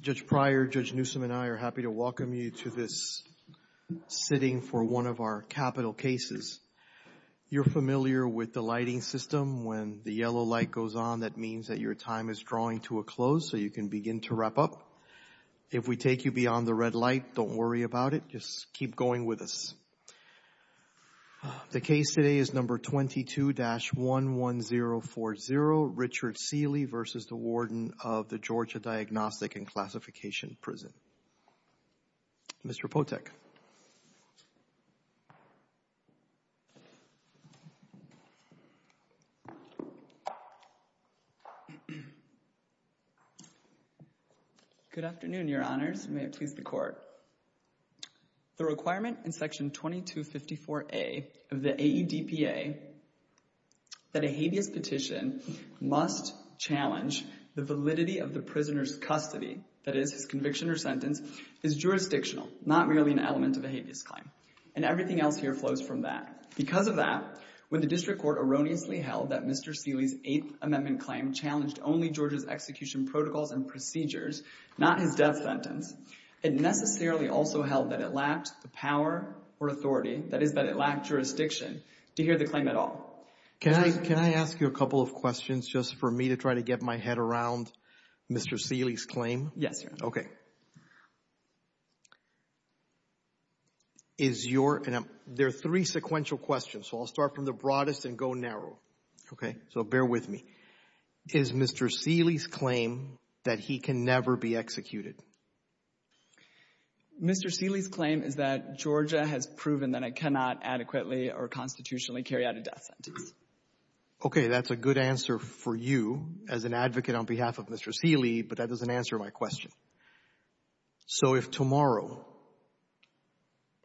Judge Pryor, Judge Newsom, and I are happy to welcome you to this sitting for one of our capital cases. You're familiar with the lighting system. When the yellow light goes on, that means that your time is drawing to a close so you can begin to wrap up. If we take you beyond the red light, don't worry about it. Just keep going with us. The case today is number 22-11040, Richard Sealey v. Warden of the Georgia Diagnostic and Classification Prison. Mr. Potek. Good afternoon, your honors. May it please the court. The requirement in section 22-54A of the AEDPA that a hedious petition must challenge the validity of the prisoner's custody, that is, conviction or sentence, is jurisdictional, not merely an act. And everything else here flows from that. Because of that, when the district court erroneously held that Mr. Sealey's eighth amendment claim challenged only Georgia's execution protocols and procedures, not his death sentence, it necessarily also held that it lacked the power or authority, that is, that it lacked jurisdiction, to hear the claim at all. Can I ask you a couple of questions just for me to try to get my head around Mr. Sealey's claim? Yes, your honor. Okay. There are three sequential questions, so I'll start from the broadest and go narrow. Okay, so bear with me. Is Mr. Sealey's claim that he can never be executed? Mr. Sealey's claim is that Georgia has proven that it cannot adequately or constitutionally carry out a death sentence. Okay, that's a good answer for you as an advocate on behalf of Mr. Sealey, but that doesn't answer my question. So if tomorrow,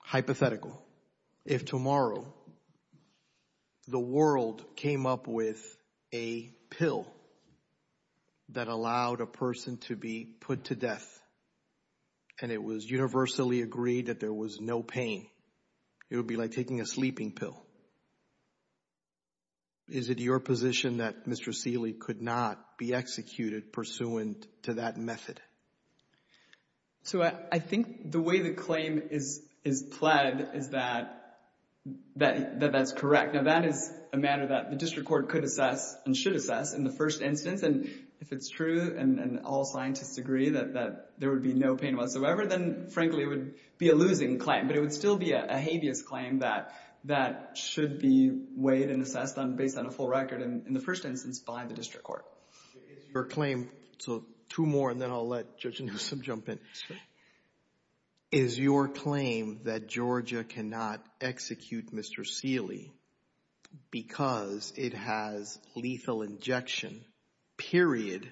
hypothetical, if tomorrow the world came up with a pill that allowed a person to be put to death and it was universally agreed that there was no pain, it would be like taking a sleeping pill. Is it your position that Mr. Sealey could not be executed pursuant to that method? So I think the way the claim is pled is that that's correct. Now that is a matter that the district court could assess and should assess in the first instance. And if it's true and all scientists agree that there would be no pain whatsoever, then frankly it would be a losing claim. But it would still be a habeas claim that should be weighed and assessed based on a full record in the first instance by the district court. Your claim, so two more and then I'll let Judge Noosa jump in. Is your claim that Georgia cannot execute Mr. Sealey because it has lethal injection, period,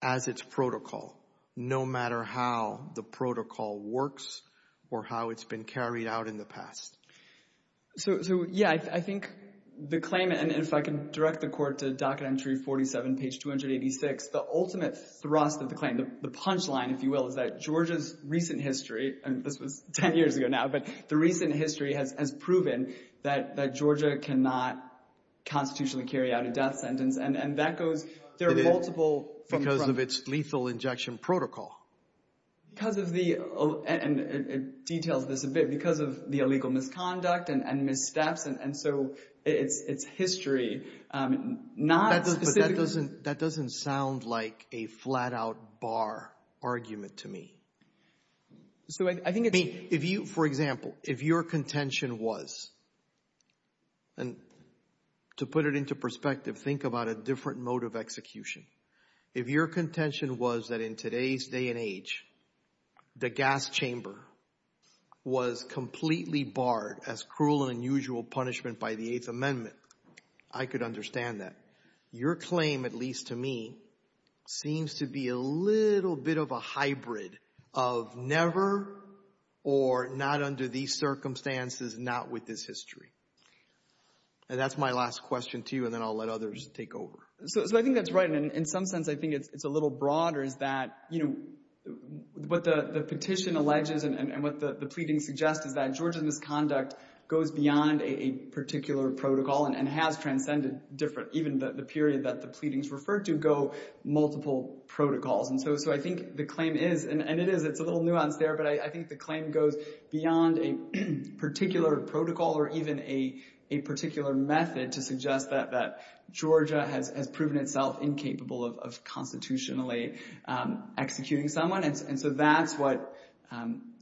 as its protocol, no matter how the protocol works or how it's been carried out in the past? So yeah, I think the claim, and if I can direct the court to Docket Entry 47, page 286, the ultimate thrust of the claim, the punchline, if you will, is that Georgia's recent history, and this was 10 years ago now, but the recent history has proven that Georgia cannot constitutionally carry out a death sentence. And that goes, there are multiple… Because of its lethal injection protocol. Because of the, and it details this a bit, because of the illegal misconduct and misdeath, and so its history, not… That doesn't sound like a flat-out bar argument to me. So I think… For example, if your contention was, and to put it into perspective, think about a different mode of execution. If your contention was that in today's day and age, the gas chamber was completely barred as cruel and unusual punishment by the Eighth Amendment, I could understand that. Your claim, at least to me, seems to be a little bit of a hybrid of never, or not under these circumstances, not with this history. And that's my last question to you, and then I'll let others take over. So I think that's right. And in some sense, I think it's a little broader that, you know, what the petition alleges and what the pleading suggests is that Georgia's misconduct goes beyond a particular protocol and has transcended different, even the period that the pleadings refer to go multiple protocols. And so I think the claim is, and it is, it's a little nuanced there, but I think the claim goes beyond a particular protocol or even a particular method to suggest that Georgia has proven itself incapable of constitutionally executing someone. And so that's what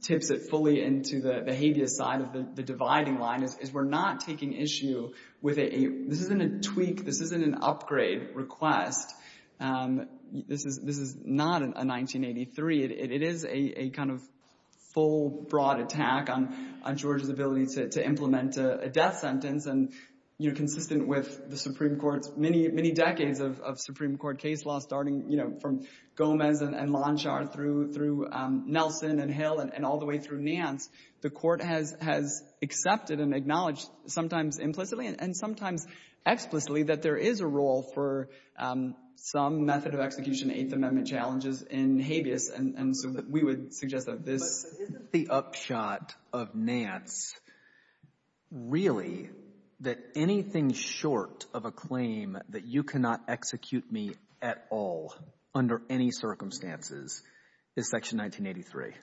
tips it fully into the habeas side of the dividing line, is we're not taking issue with a… This isn't a tweak. This isn't an upgrade request. This is not a 1983. It is a kind of full, broad attack on Georgia's ability to implement a death sentence. And, you know, consistent with the Supreme Court, many, many decades of Supreme Court case law, starting, you know, from Gomez and Lonshar through Nelson and Hill and all the way through Nance, the court has accepted and acknowledged, sometimes implicitly and sometimes explicitly, that there is a role for some method of execution of Eighth Amendment challenges in habeas. And we would suggest that this is the upshot of Nance, really, that anything short of a claim that you cannot execute me at all under any circumstances is Section 1983.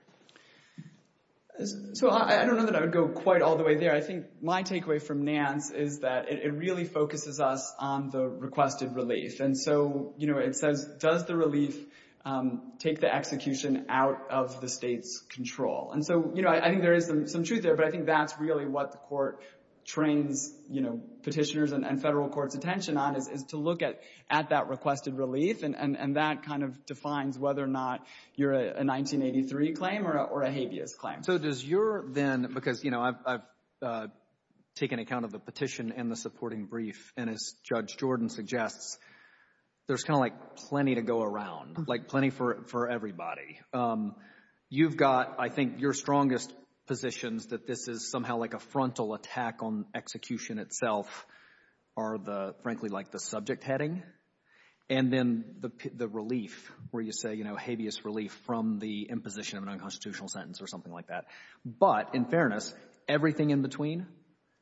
So I don't know that I would go quite all the way there. But I think my takeaway from Nance is that it really focuses us on the requested release. And so, you know, it says, does the release take the execution out of the state's control? And so, you know, I think there is some truth there. But I think that's really what the court trains, you know, petitioners and federal courts' attention on is to look at that requested release. And that kind of defines whether or not you're a 1983 claim or a habeas claim. So does your then – because I've taken account of the petition and the supporting brief, and as Judge Jordan suggests, there's kind of like plenty to go around, like plenty for everybody. You've got, I think, your strongest positions that this is somehow like a frontal attack on execution itself are the – frankly like the subject heading. And then the relief where you say habeas relief from the imposition of an unconstitutional sentence or something like that. But in fairness, everything in between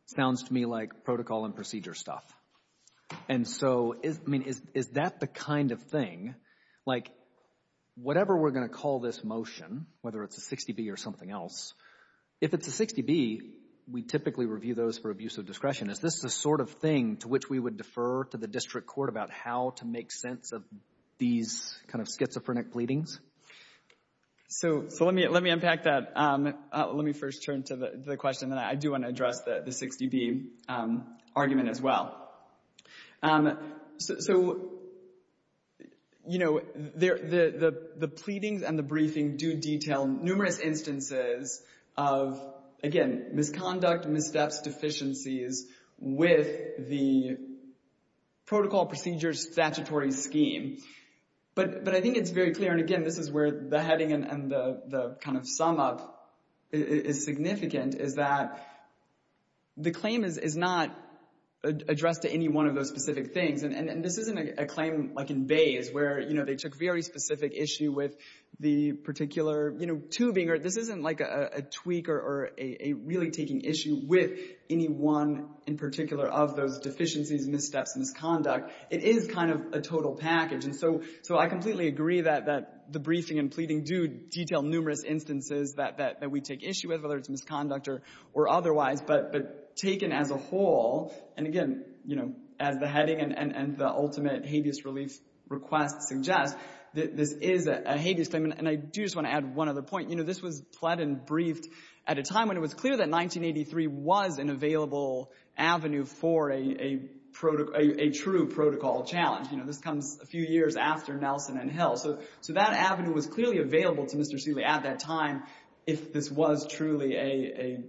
sounds to me like protocol and procedure stuff. And so, I mean, is that the kind of thing? Like whatever we're going to call this motion, whether it's a 60B or something else, if it's a 60B, we typically review those for abuse of discretion. Is this the sort of thing to which we would defer to the district court about how to make sense of these kind of schizophrenic pleadings? So let me unpack that. Let me first turn to the question, and then I do want to address the 60B argument as well. So, you know, the pleadings and the briefings do detail numerous instances of, again, misconduct, missteps, deficiencies with the protocol, procedures, statutory scheme. But I think it's very clear, and again, this is where the heading and the kind of sum up is significant, is that the claim is not addressed to any one of those specific things. And this isn't a claim like in Bays where, you know, they took very specific issue with the particular, you know, tubing. This isn't like a tweak or a really taking issue with any one in particular of those deficiencies, missteps, misconduct. It is kind of a total package. And so I completely agree that the briefing and pleading do detail numerous instances that we take issue with, whether it's misconduct or otherwise. But taken as a whole, and again, you know, as the heading and the ultimate habeas relief request suggests, this is a habeas statement. And I do just want to add one other point. You know, this was pled and briefed at a time when it was clear that 1983 was an available avenue for a true protocol challenge. You know, this comes a few years after Nelson and Hill. So that avenue was clearly available to Mr. Seeley at that time if this was truly a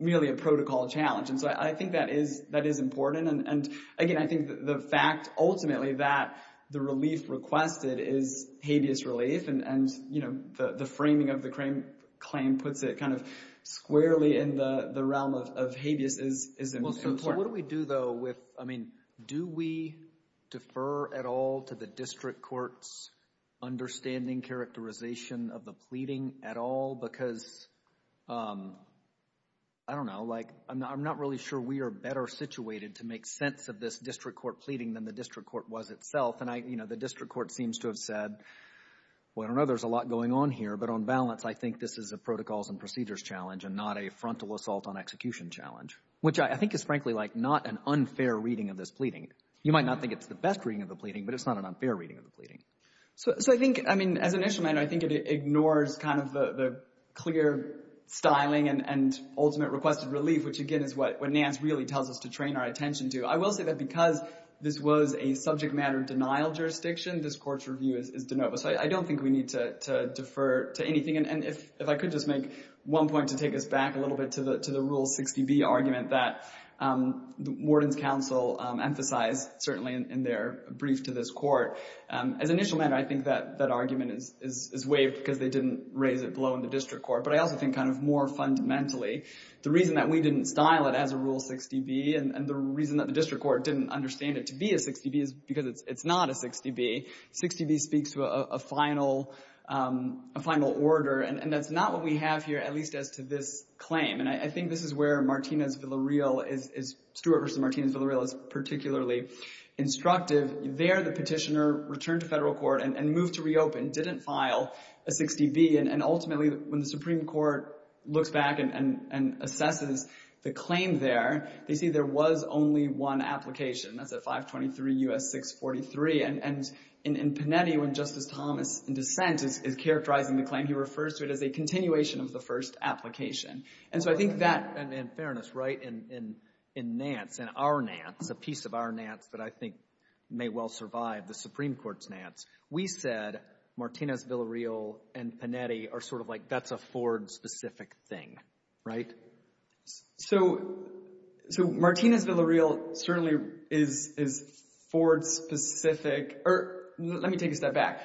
really a protocol challenge. And so I think that is important. And, again, I think the fact ultimately that the relief requested is habeas relief and, you know, the framing of the claim puts it kind of squarely in the realm of habeas is important. What do we do, though, with, I mean, do we defer at all to the district court's understanding characterization of the pleading at all? Because, I don't know, like I'm not really sure we are better situated to make sense of this district court pleading than the district court was itself. And, you know, the district court seems to have said, well, I don't know, there's a lot going on here. But on balance, I think this is a protocols and procedures challenge and not a frontal assault on execution challenge, which I think is frankly like not an unfair reading of this pleading. You might not think it's the best reading of the pleading, but it's not an unfair reading of the pleading. So I think, I mean, as an instrument, I think it ignores kind of the clear styling and ultimate requested relief, which, again, is what NAMS really tells us to train our attention to. I will say that because this was a subject matter denial jurisdiction, this court's review is de novo. So I don't think we need to defer to anything. And if I could just make one point to take us back a little bit to the rule 60B argument that the warden's counsel emphasized, certainly in their brief to this court. As an instrument, I think that argument is waived because they didn't raise it below in the district court. But I also think kind of more fundamentally, the reason that we didn't dial it as a rule 60B and the reason that the district court didn't understand it to be a 60B is because it's not a 60B. 60B speaks to a final order. And that's not what we have here, at least as to this claim. And I think this is where Martina Villarreal is, Stuart versus Martina Villarreal, is particularly instructive. There, the petitioner returned to federal court and moved to reopen, didn't file a 60B. And ultimately, when the Supreme Court looked back and assessed the claim there, they see there was only one application. That's at 523 U.S. 643. And in Panetti, when Justice Thomas, in defense, is characterizing the claim, he refers to it as a continuation of the first application. And so I think that, in fairness, right, in Nance, in our Nance, the piece of our Nance that I think may well survive the Supreme Court's Nance, we said Martina Villarreal and Panetti are sort of like that's a Ford-specific thing, right? So Martina Villarreal certainly is Ford-specific. Or let me take a step back.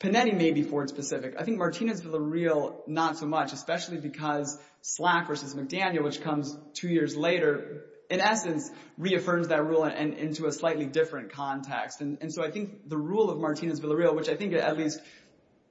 Panetti may be Ford-specific. I think Martina Villarreal not so much, especially because Flack versus McDaniel, which comes two years later, in essence, reaffirms that rule into a slightly different context. And so I think the rule of Martina Villarreal, which I think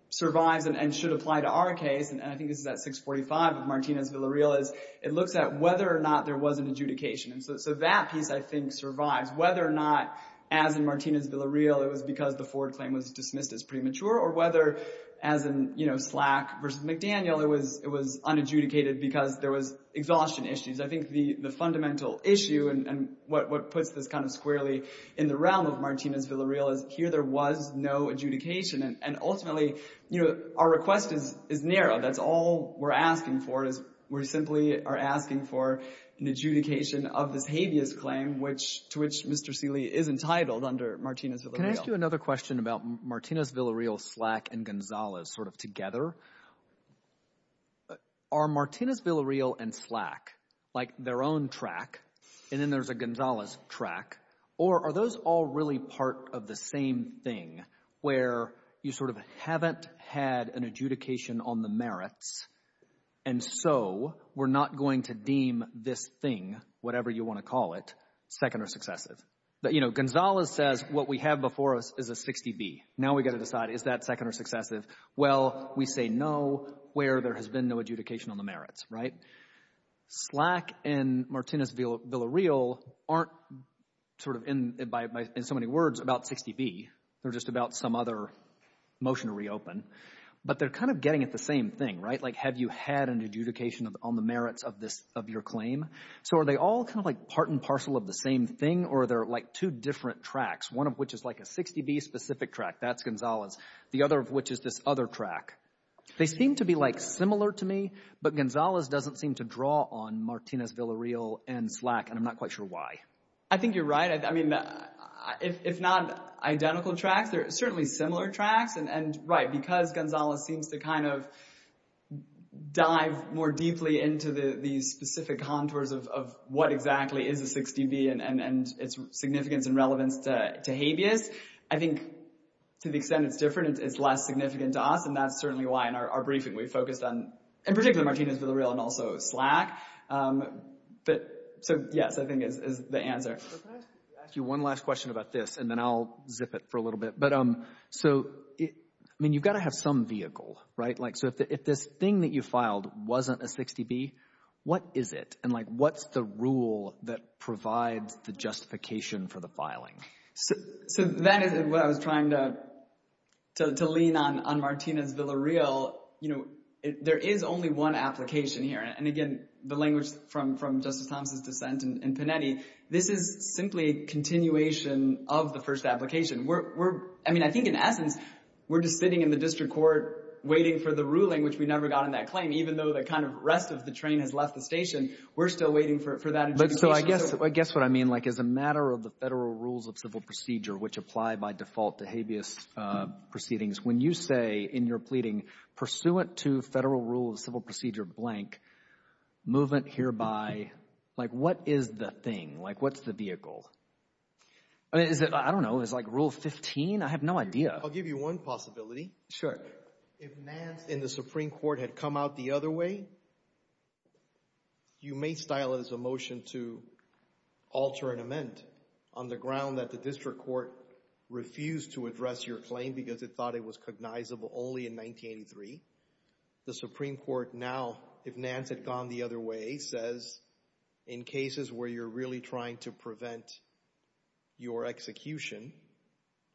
survives and should apply to our case, and I think it's that 645 of Martina Villarreal, is it looked at whether or not there was an adjudication. So that piece, I think, survived. Whether or not, as in Martina Villarreal, it was because the Ford claim was dismissed as premature, or whether, as in, you know, Flack versus McDaniel, it was unadjudicated because there was exhaustion issues. I think the fundamental issue and what puts this kind of squarely in the realm of Martina Villarreal is here there was no adjudication. And ultimately, you know, our request is narrow. That's all we're asking for is we simply are asking for an adjudication of the Tavius claim, to which Mr. Seeley is entitled under Martina Villarreal. Can I ask you another question about Martina Villarreal, Flack, and Gonzalez sort of together? Are Martina Villarreal and Flack, like their own track, and then there's a Gonzalez track, or are those all really part of the same thing where you sort of haven't had an adjudication on the merits, and so we're not going to deem this thing, whatever you want to call it, second or successes? Gonzalez says what we have before us is a 60B. Now we've got to decide, is that second or successes? Well, we say no where there has been no adjudication on the merits. Flack and Martina Villarreal aren't sort of in so many words about 60B. They're just about some other motion to reopen, but they're kind of getting at the same thing. Like have you had an adjudication on the merits of your claim? So are they all kind of like part and parcel of the same thing, or are there like two different tracks, one of which is like a 60B specific track, that's Gonzalez, the other of which is this other track? They seem to be like similar to me, but Gonzalez doesn't seem to draw on Martina Villarreal and Flack, and I'm not quite sure why. I think you're right. It's not identical tracks. They're certainly similar tracks, and right, because Gonzalez seems to kind of dive more deeply into the specific contours of what exactly is a 60B and its significance and relevance to habeas. I think to the extent it's different, it's less significant to us, and that's certainly why in our briefing we focused on, in particular, Martina Villarreal and also Flack. So, yes, I think it's the answer. Let me ask you one last question about this, and then I'll zip it for a little bit. I mean, you've got to have some vehicle, right? So if this thing that you filed wasn't a 60B, what is it, and what's the rule that provides the justification for the filing? So that is what I was trying to lean on on Martina Villarreal. There is only one application here, and again, the language from Justice Thompson's defense in Panetti, this is simply a continuation of the first application. I mean, I think in essence, we're just sitting in the district court waiting for the ruling, which we never got on that claim, even though the kind of rest of the train has left the station. We're still waiting for that. So I guess what I mean, like as a matter of the Federal Rules of Civil Procedure, which apply by default to habeas proceedings, when you say in your pleading, pursuant to Federal Rules of Civil Procedure blank, movement hereby, like what is the thing? Like what's the vehicle? I don't know. Is it like Rule 15? I have no idea. I'll give you one possibility. Sure. If Nance and the Supreme Court had come out the other way, you may style it as a motion to alter an amendment on the ground that the district court refused to address your claim because it thought it was cognizable only in 1983. The Supreme Court now, if Nance had gone the other way, says in cases where you're really trying to prevent your execution,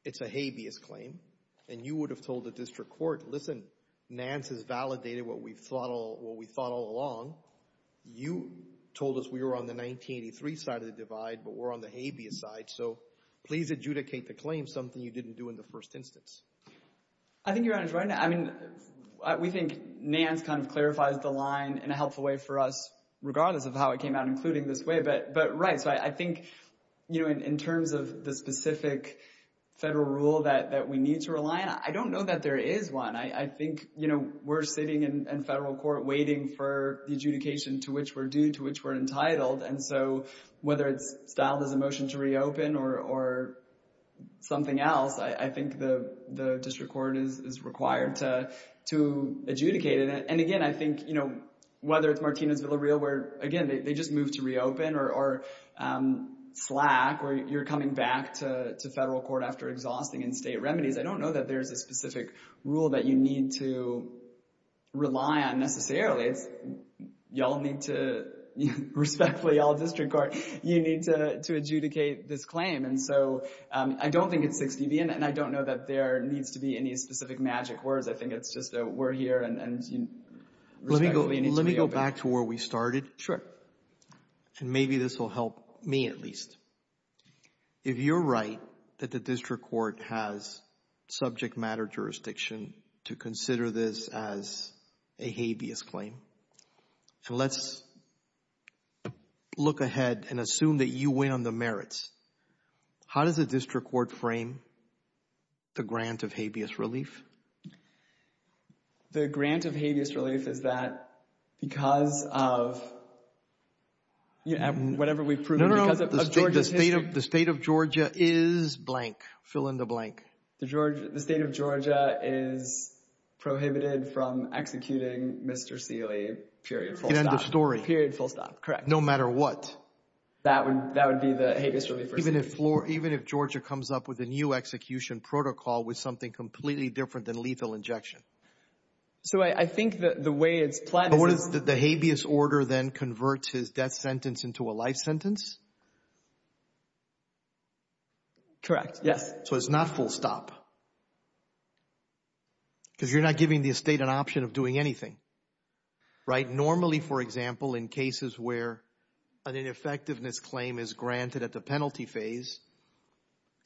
it's a habeas claim. And you would have told the district court, listen, Nance has validated what we thought all along. You told us we were on the 1983 side of the divide, but we're on the habeas side. So please adjudicate the claim, something you didn't do in the first instance. I think you're right. I mean, we think Nance kind of clarifies the line in a helpful way for us, regardless of how it came out, including this way. But right. So I think, you know, in terms of the specific federal rule that we need to rely on, I don't know that there is one. I think, you know, we're sitting in federal court waiting for the adjudication to which we're due, to which we're entitled. And so whether it's dialed as a motion to reopen or something else, I think the district court is required to adjudicate it. And, again, I think, you know, whether it's Martina Villarreal, where, again, they just moved to reopen, or Slack, where you're coming back to federal court after exhausting in state remedies, I don't know that there's a specific rule that you need to rely on necessarily. Y'all need to respectfully, all district court, you need to adjudicate this claim. And so I don't think it's 60-B, and I don't know that there needs to be any specific magic words. I think it's just that we're here and you need to reopen. Let me go back to where we started. Sure. And maybe this will help me at least. If you're right that the district court has subject matter jurisdiction to consider this as a habeas claim, so let's look ahead and assume that you win on the merits. How does the district court frame the grant of habeas relief? The grant of habeas relief is that because of whatever we've proven. No, no, no. The state of Georgia is blank. Fill in the blank. The state of Georgia is prohibited from executing Mr. Seeley period full-time. Period full-time, correct. No matter what. That would be the habeas relief. Even if Georgia comes up with a new execution protocol with something completely different than lethal injection. So I think the way it's planned. The habeas order then converts his death sentence into a life sentence? Correct, yes. So it's not full stop. Because you're not giving the estate an option of doing anything, right? Normally, for example, in cases where an ineffectiveness claim is granted at the penalty phase,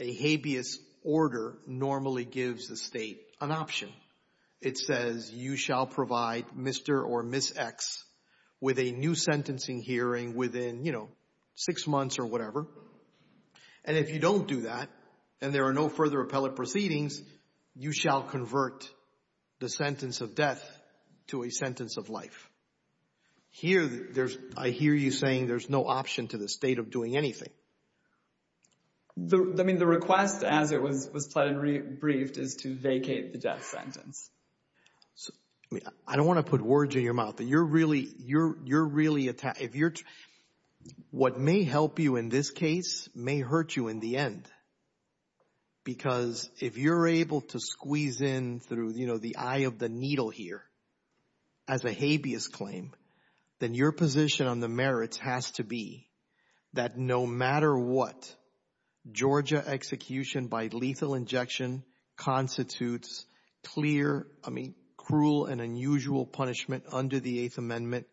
a habeas order normally gives the state an option. It says you shall provide Mr. or Ms. X with a new sentencing hearing within, you know, six months or whatever. And if you don't do that and there are no further appellate proceedings, you shall convert the sentence of death to a sentence of life. Here, I hear you saying there's no option to the state of doing anything. I mean, the request as it was briefed is to vacate the death sentence. I don't want to put words in your mouth, but you're really attacking. What may help you in this case may hurt you in the end. Because if you're able to squeeze in through, you know, the eye of the needle here as a habeas claim, then your position on the merits has to be that no matter what, Georgia execution by lethal injection constitutes clear, I mean, cruel and unusual punishment under the Eighth Amendment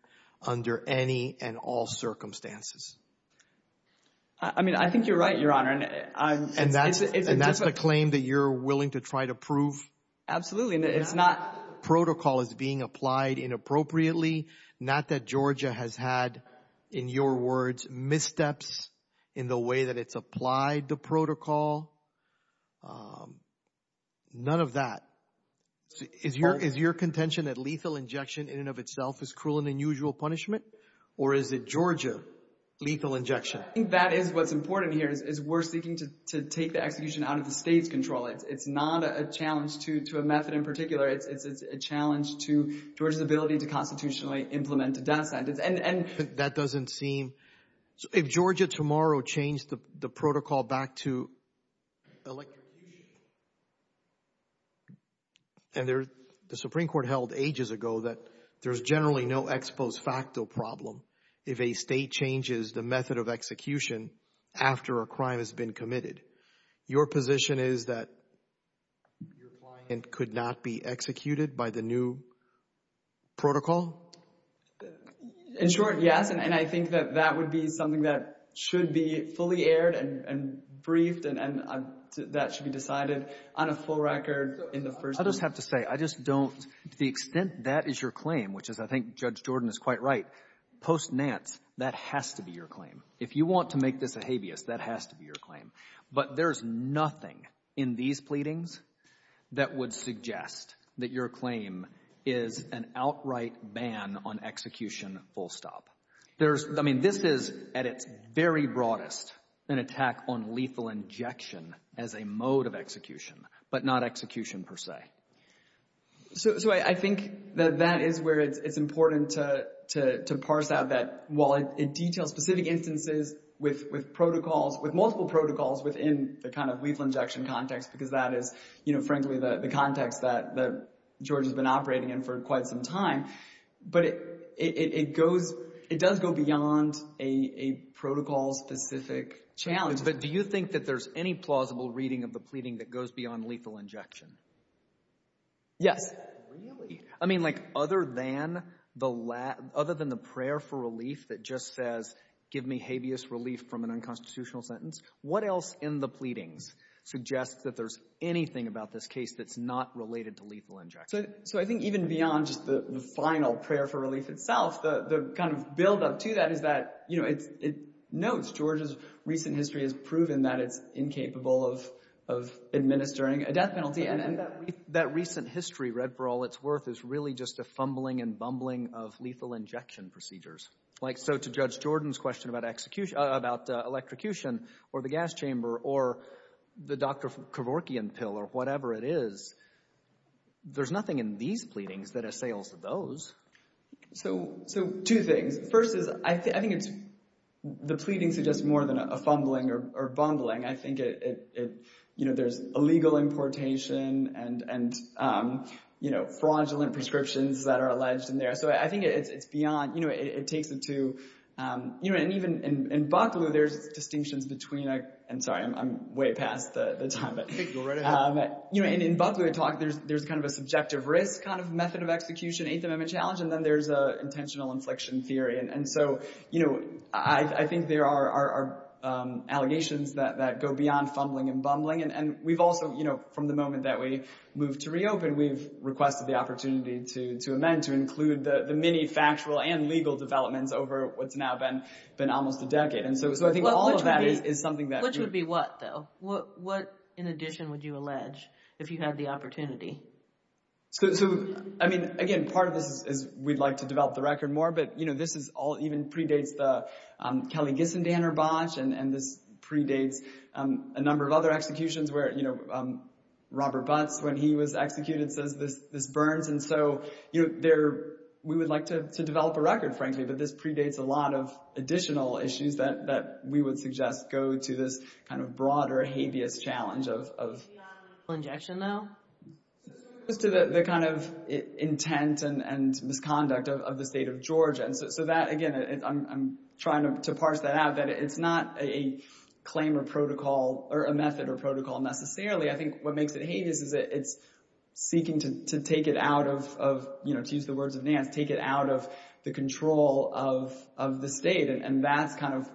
under any and all circumstances. I mean, I think you're right, Your Honor. And that's a claim that you're willing to try to prove? Absolutely. If not protocol is being applied inappropriately, not that Georgia has had, in your words, missteps in the way that it's applied the protocol, none of that. Is your contention that lethal injection in and of itself is cruel and unusual punishment? Or is it Georgia lethal injection? I think that is what's important here is we're seeking to take the execution out of the state's control. It's not a challenge to a method in particular. It's a challenge to Georgia's ability to constitutionally implement the death sentence. And that doesn't seem – if Georgia tomorrow changed the protocol back to electrocution, and the Supreme Court held ages ago that there's generally no ex post facto problem if a state changes the method of execution after a crime has been committed. Your position is that your client could not be executed by the new protocol? In short, yes. And I think that that would be something that should be fully aired and briefed and that should be decided on a full record in the first – I just have to say, I just don't – to the extent that is your claim, which is I think Judge Jordan is quite right, post-Nance, that has to be your claim. If you want to make this a habeas, that has to be your claim. But there's nothing in these pleadings that would suggest that your claim is an outright ban on execution full stop. I mean, this is, at its very broadest, an attack on lethal injection as a mode of execution, but not execution per se. So I think that that is where it's important to parse out that, while it details specific instances with protocols, with multiple protocols, within the kind of lethal injection context, because that is, frankly, the context that Jordan has been operating in for quite some time, but it does go beyond a protocol-specific challenge. But do you think that there's any plausible reading of the pleading that goes beyond lethal injection? Yes. Really? I mean, like, other than the prayer for relief that just says, give me habeas relief from an unconstitutional sentence, what else in the pleadings suggests that there's anything about this case that's not related to lethal injection? So I think even beyond just the final prayer for relief itself, the kind of buildup to that is that it notes George's recent history has proven that it's incapable of administering a death penalty. And that recent history, read for all it's worth, is really just a fumbling and bumbling of lethal injection procedures. Like, so to Judge Jordan's question about electrocution or the gas chamber or the Dr. Kevorkian pill or whatever it is, there's nothing in these pleadings that assails those. So two things. First is I think the pleadings are just more than a fumbling or bumbling. I think there's illegal importation and fraudulent prescriptions that are alleged in there. So I think it's beyond – it takes into – and even in Bucklew, there's distinctions between – and sorry, I'm way past the time. In Bucklew, there's kind of a subjective risk kind of method of execution, and then there's an intentional inflection theory. And so I think there are allegations that go beyond fumbling and bumbling. And we've also, from the moment that we moved to reopen, we've requested the opportunity to amend, to include the many factual and legal developments over what's now been almost a decade. And so I think all of that is something that – Which would be what, though? What in addition would you allege if you had the opportunity? So, I mean, again, part of this is we'd like to develop the record more, but, you know, this is all – even predates the Kelly-Ginson-Danner botch, and this predates a number of other executions where, you know, Robert Butts, when he was executed, says this burns. And so, you know, we would like to develop a record, frankly, but this predates a lot of additional issues that we would suggest go to this kind of broader habeas challenge of – Beyond legal injection, though? To the kind of intent and misconduct of the state of Georgia. So that, again, I'm trying to parse that out, but it's not a claim or protocol or a method or protocol necessarily. I think what makes it habeas is that it's seeking to take it out of, you know, to use the words of Nance, take it out of the control of the state, and that's kind of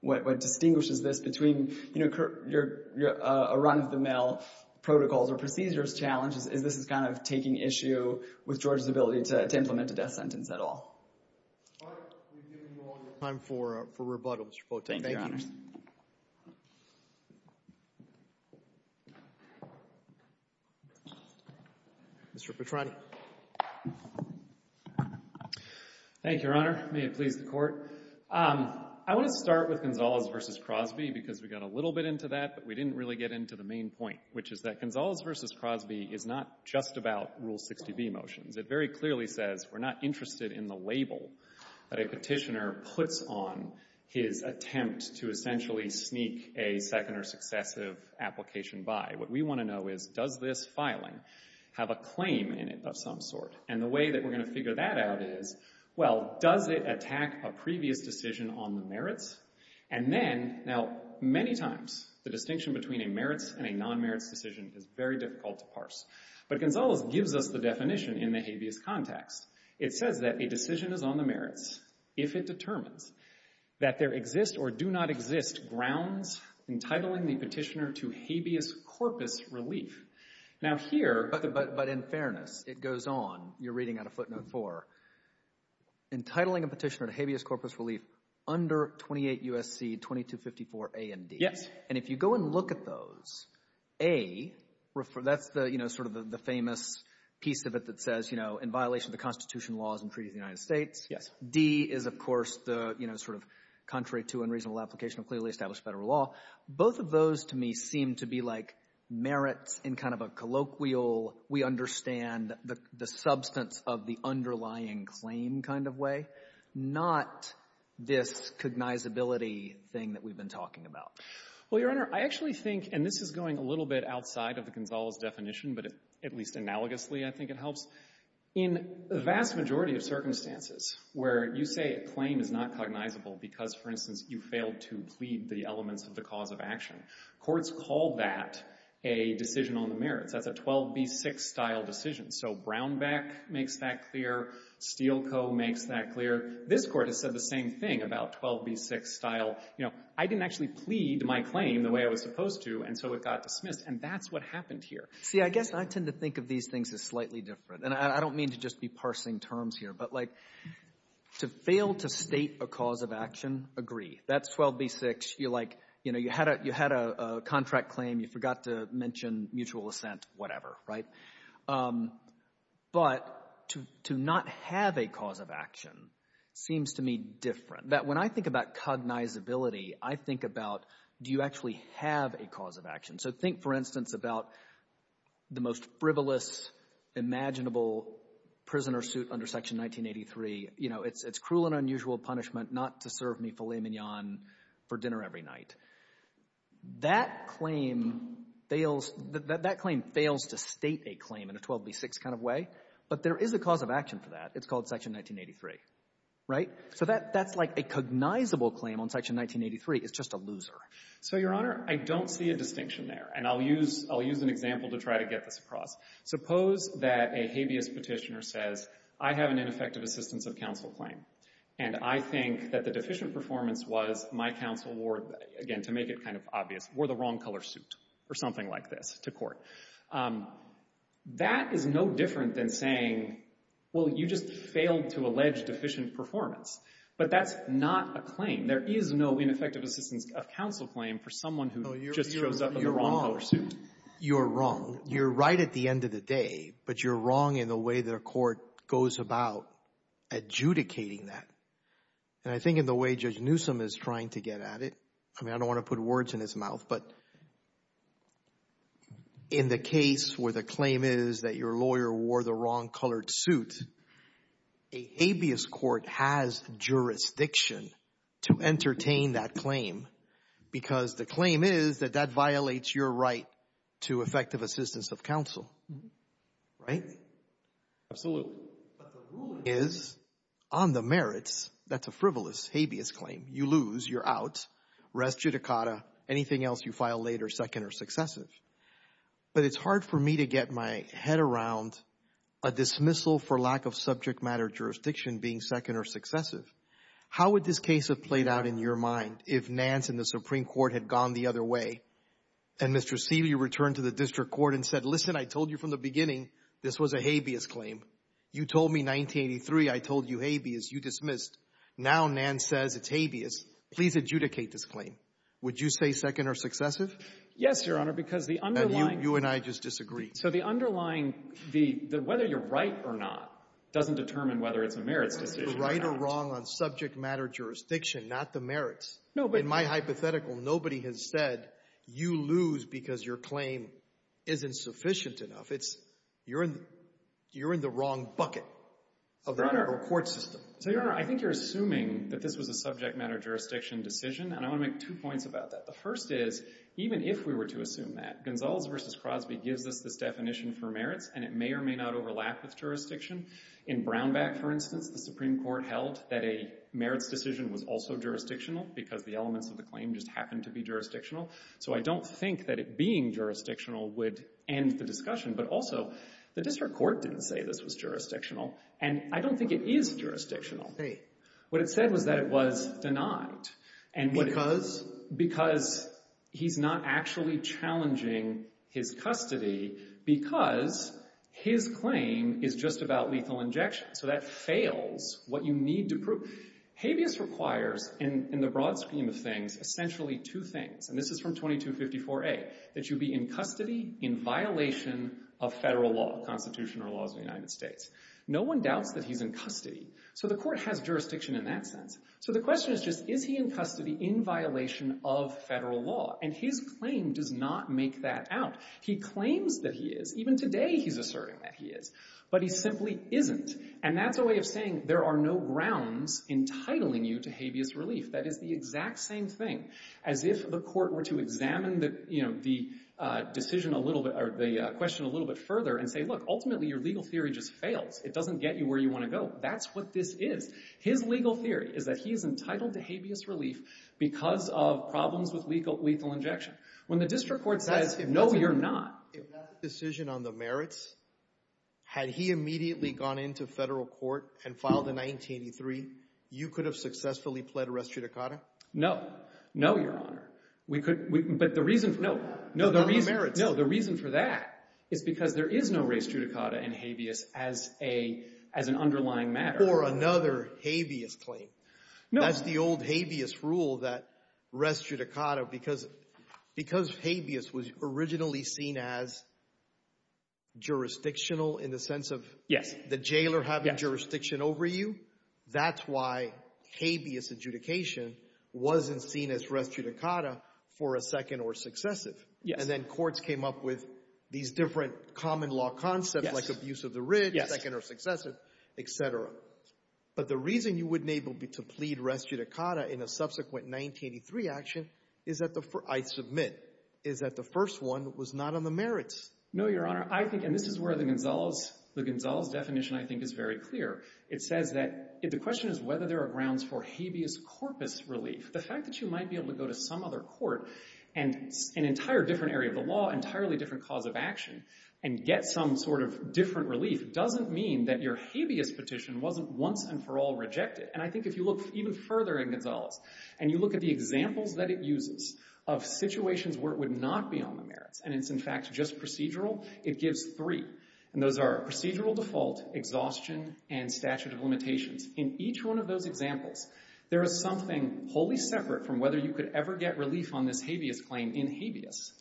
what distinguishes this between, you know, a run-of-the-mill protocol or procedures challenge, and this is kind of taking issue with Georgia's ability to implement the death sentence at all. All right. We've given you all the time for rebuttal, Mr. Potemkin. Thank you, Your Honor. Mr. Petran. Thank you, Your Honor. May it please the Court. I want to start with Gonzales v. Crosby because we got a little bit into that, but we didn't really get into the main point, which is that Gonzales v. Crosby is not just about Rule 60B motions. It very clearly says we're not interested in the label that a petitioner puts on his attempt to essentially sneak a second or successive application by. What we want to know is, does this filing have a claim in it of some sort? And the way that we're going to figure that out is, well, does it attack a previous decision on the merits? And then, now many times, the distinction between a merits and a non-merits decision is very difficult to parse. But Gonzales gives us the definition in the habeas context. It says that a decision is on the merits if it determines that there exists or do not exist grounds entitling the petitioner to habeas corpus relief. Now here, but in fairness, it goes on. You're reading out of footnote 4. Entitling a petitioner to habeas corpus relief under 28 U.S.C. 2254 A and D. And if you go and look at those, A, that's sort of the famous piece of it that says, in violation of the Constitution, laws and treaties of the United States. D is, of course, the sort of contrary to unreasonable application of clearly established federal law. Both of those to me seem to be like merits in kind of a colloquial, we understand the substance of the underlying claim kind of way, but not this cognizability thing that we've been talking about. Well, Your Honor, I actually think, and this is going a little bit outside of the Gonzales definition, but at least analogously I think it helps. In the vast majority of circumstances where you say a claim is not cognizable because, for instance, you failed to plead the elements of the cause of action, courts call that a decision on the merits. That's a 12B6 style decision. So Brownback makes that clear. Steele Co. makes that clear. This Court has said the same thing about 12B6 style. I didn't actually plead my claim the way I was supposed to, and so it got dismissed, and that's what happened here. See, I guess I tend to think of these things as slightly different, and I don't mean to just be parsing terms here, but to fail to state a cause of action, agree. That's 12B6. You had a contract claim. You forgot to mention mutual assent, whatever. But to not have a cause of action seems to me different. When I think about cognizability, I think about do you actually have a cause of action. So think, for instance, about the most frivolous, imaginable prisoner suit under Section 1983. It's cruel and unusual punishment not to serve me filet mignon for dinner every night. That claim fails to state a claim in a 12B6 kind of way, but there is a cause of action for that. It's called Section 1983. So that's like a cognizable claim on Section 1983. It's just a loser. So Your Honor, I don't see a distinction there, and I'll use an example to try to get this across. Suppose that a habeas petitioner says I have an ineffective assistance of counsel claim. And I think that the deficient performance was my counsel wore, again, to make it kind of obvious, wore the wrong color suit or something like this to court. That is no different than saying, well, you just failed to allege deficient performance. But that's not a claim. There is no ineffective assistance of counsel claim for someone who just shows up in the wrong color suit. You're wrong. You're right at the end of the day. But you're wrong in the way the court goes about adjudicating that. And I think in the way Judge Newsom is trying to get at it, I mean, I don't want to put words in his mouth, but in the case where the claim is that your lawyer wore the wrong colored suit, a habeas court has jurisdiction to entertain that claim because the claim is that that violates your right to effective assistance of counsel, right? Absolutely. But the ruling is on the merits, that's a frivolous habeas claim. You lose. You're out. Res judicata. Anything else you file later, second or successive. But it's hard for me to get my head around a dismissal for lack of subject matter jurisdiction being second or successive. How would this case have played out in your mind if Nance and the Supreme Court had gone the other way and Mr. Seeley returned to the district court and said, listen, I told you from the beginning this was a habeas claim. You told me 1983 I told you habeas. You dismissed. Now Nance says it's habeas. Please adjudicate this claim. Would you say second or successive? Yes, Your Honor, because the underlying – And you and I just disagreed. So the underlying, whether you're right or not doesn't determine whether it's the merits. It's the right or wrong on subject matter jurisdiction, not the merits. In my hypothetical, nobody has said you lose because your claim isn't sufficient enough. You're in the wrong bucket of the court system. Your Honor, I think you're assuming that this was a subject matter jurisdiction decision, and I want to make two points about that. The first is, even if we were to assume that, Gonzales v. Crosby gives us this definition for merits, and it may or may not overlap with jurisdiction. In Brownback, for instance, the Supreme Court held that a merits decision was also jurisdictional because the elements of the claim just happened to be jurisdictional. So I don't think that it being jurisdictional would end the discussion. But also, the district court didn't say this was jurisdictional, and I don't think it is jurisdictional. What it said was that it was denied. Because he's not actually challenging his custody because his claim is just about legal injection. So that fails what you need to prove. Habeas requires, in the broad scheme of things, essentially two things. And this is from 2254A, that you be in custody in violation of federal law, constitutional laws of the United States. No one doubts that he's in custody. So the court has jurisdiction in that sense. So the question is just, is he in custody in violation of federal law? And his claim does not make that out. He claims that he is. Even today he's asserting that he is. But he simply isn't. And that's a way of saying there are no grounds entitling you to habeas relief. That is the exact same thing. As if the court were to examine the question a little bit further and say, look, ultimately your legal theory just failed. It doesn't get you where you want to go. That's what this is. His legal theory is that he is entitled to habeas relief because of problems with legal injection. When the district court says, no, you're not. If that's the decision on the merits, had he immediately gone into federal court and filed in 1983, you could have successfully pled restitutacata? No. No, Your Honor. But the reason for that is because there is no restitutacata in habeas as an underlying matter. Or another habeas claim. That's the old habeas rule, that restitutacata, because habeas was originally seen as jurisdictional in the sense of the jailer having jurisdiction over you. That's why habeas adjudication wasn't seen as restitutacata for a second or successive. And then courts came up with these different common law concepts like abuse of the wrist, second or successive, et cetera. But the reason you wouldn't be able to plead restitutacata in a subsequent 1983 action, I submit, is that the first one was not on the merits. No, Your Honor. And this is where the Gonzales definition I think is very clear. It says that the question is whether there are grounds for habeas corpus relief. The fact that you might be able to go to some other court and an entire different area of the law, entirely different cause of action, and get some sort of different relief doesn't mean that your habeas petition wasn't once and for all rejected. And I think if you look even further in Gonzales, and you look at the examples that it uses of situations where it would not be on the merits, and it's in fact just procedural, it gives three. And those are procedural default, exhaustion, and statute of limitations. In each one of those examples, there is something wholly separate from whether you could ever get relief on this habeas claim in habeas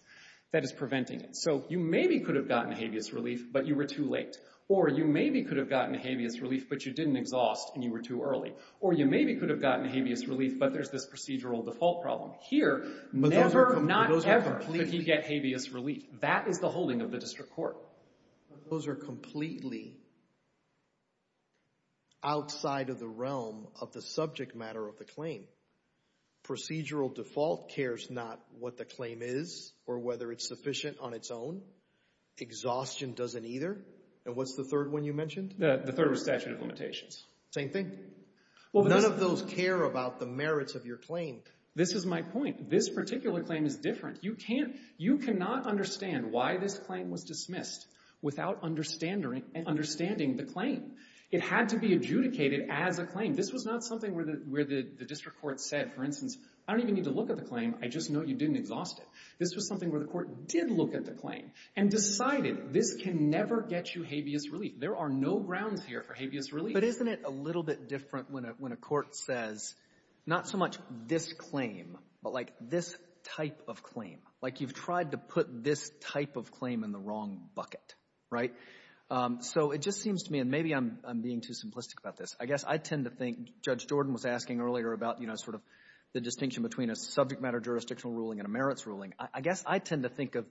that is preventing it. So you maybe could have gotten habeas relief, but you were too late. Or you maybe could have gotten habeas relief, but you didn't exhaust and you were too early. Or you maybe could have gotten habeas relief, but there's this procedural default problem. Never, not ever could you get habeas relief. That is the holding of the district court. Those are completely outside of the realm of the subject matter of the claim. Procedural default cares not what the claim is or whether it's sufficient on its own. Exhaustion doesn't either. And what's the third one you mentioned? The third was statute of limitations. Same thing. None of those care about the merits of your claim. This is my point. This particular claim is different. You cannot understand why this claim was dismissed without understanding the claim. It had to be adjudicated as a claim. This was not something where the district court said, for instance, I don't even need to look at the claim. I just know you didn't exhaust it. This was something where the court did look at the claim and decided this can never get you habeas relief. There are no grounds here for habeas relief. But isn't it a little bit different when a court says not so much this claim but this type of claim, like you've tried to put this type of claim in the wrong bucket? So it just seems to me – and maybe I'm being too simplistic about this. I guess I tend to think – Judge Jordan was asking earlier about sort of the distinction between a subject matter jurisdictional ruling and a merits ruling. I guess I tend to think of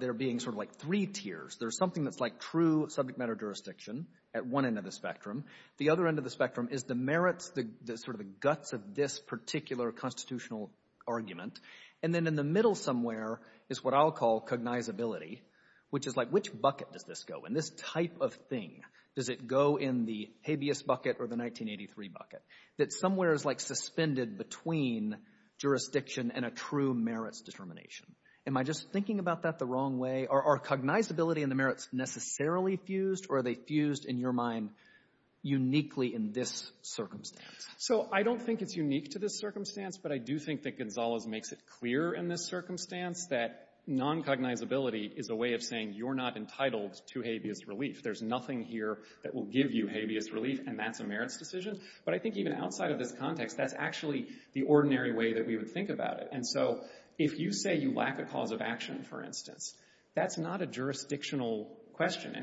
there being sort of like three tiers. There's something that's like true subject matter jurisdiction at one end of the spectrum. The other end of the spectrum is the merits, sort of the guts of this particular constitutional argument. And then in the middle somewhere is what I'll call cognizability, which is like which bucket does this go in? This type of thing, does it go in the habeas bucket or the 1983 bucket? That somewhere is like suspended between jurisdiction and a true merits determination. Am I just thinking about that the wrong way? Are cognizability and the merits necessarily fused, or are they fused in your mind uniquely in this circumstance? So I don't think it's unique to this circumstance, but I do think that Gonzales makes it clear in this circumstance that noncognizability is a way of saying you're not entitled to habeas relief. There's nothing here that will give you habeas relief, and that's a merits decision. But I think even outside of this context, that's actually the ordinary way that we would think about it. And so if you say you lack a cause of action, for instance, that's not a jurisdictional question.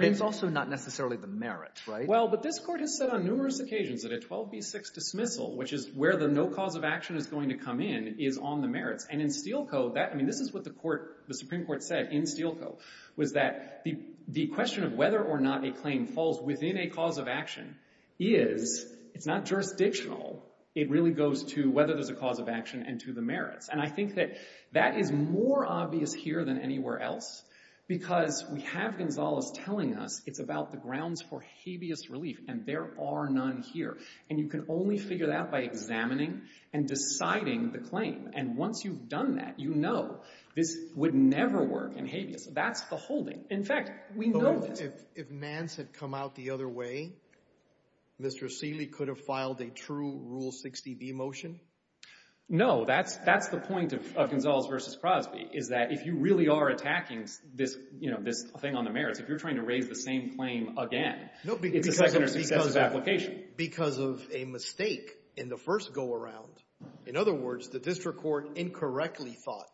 It's also not necessarily the merits, right? Well, but this court has said on numerous occasions that a 12b6 dismissal, which is where the no cause of action is going to come in, is on the merits. And in Steele Co., this is what the Supreme Court said in Steele Co. was that the question of whether or not a claim falls within a cause of action is not jurisdictional. It really goes to whether there's a cause of action and to the merits. And I think that that is more obvious here than anywhere else because we have Gonzales telling us it's about the grounds for habeas relief, and there are none here. And you can only figure that by examining and deciding the claim. And once you've done that, you know this would never work in habeas. That's the holding. In fact, we know that if Mance had come out the other way, Mr. Steele could have filed a true Rule 60b motion. No, that's the point of Gonzales v. Crosby is that if you really are attacking this thing on the merits, if you're trying to raise the same claim again, it's because of application. Because of a mistake in the first go-around. In other words, the district court incorrectly thought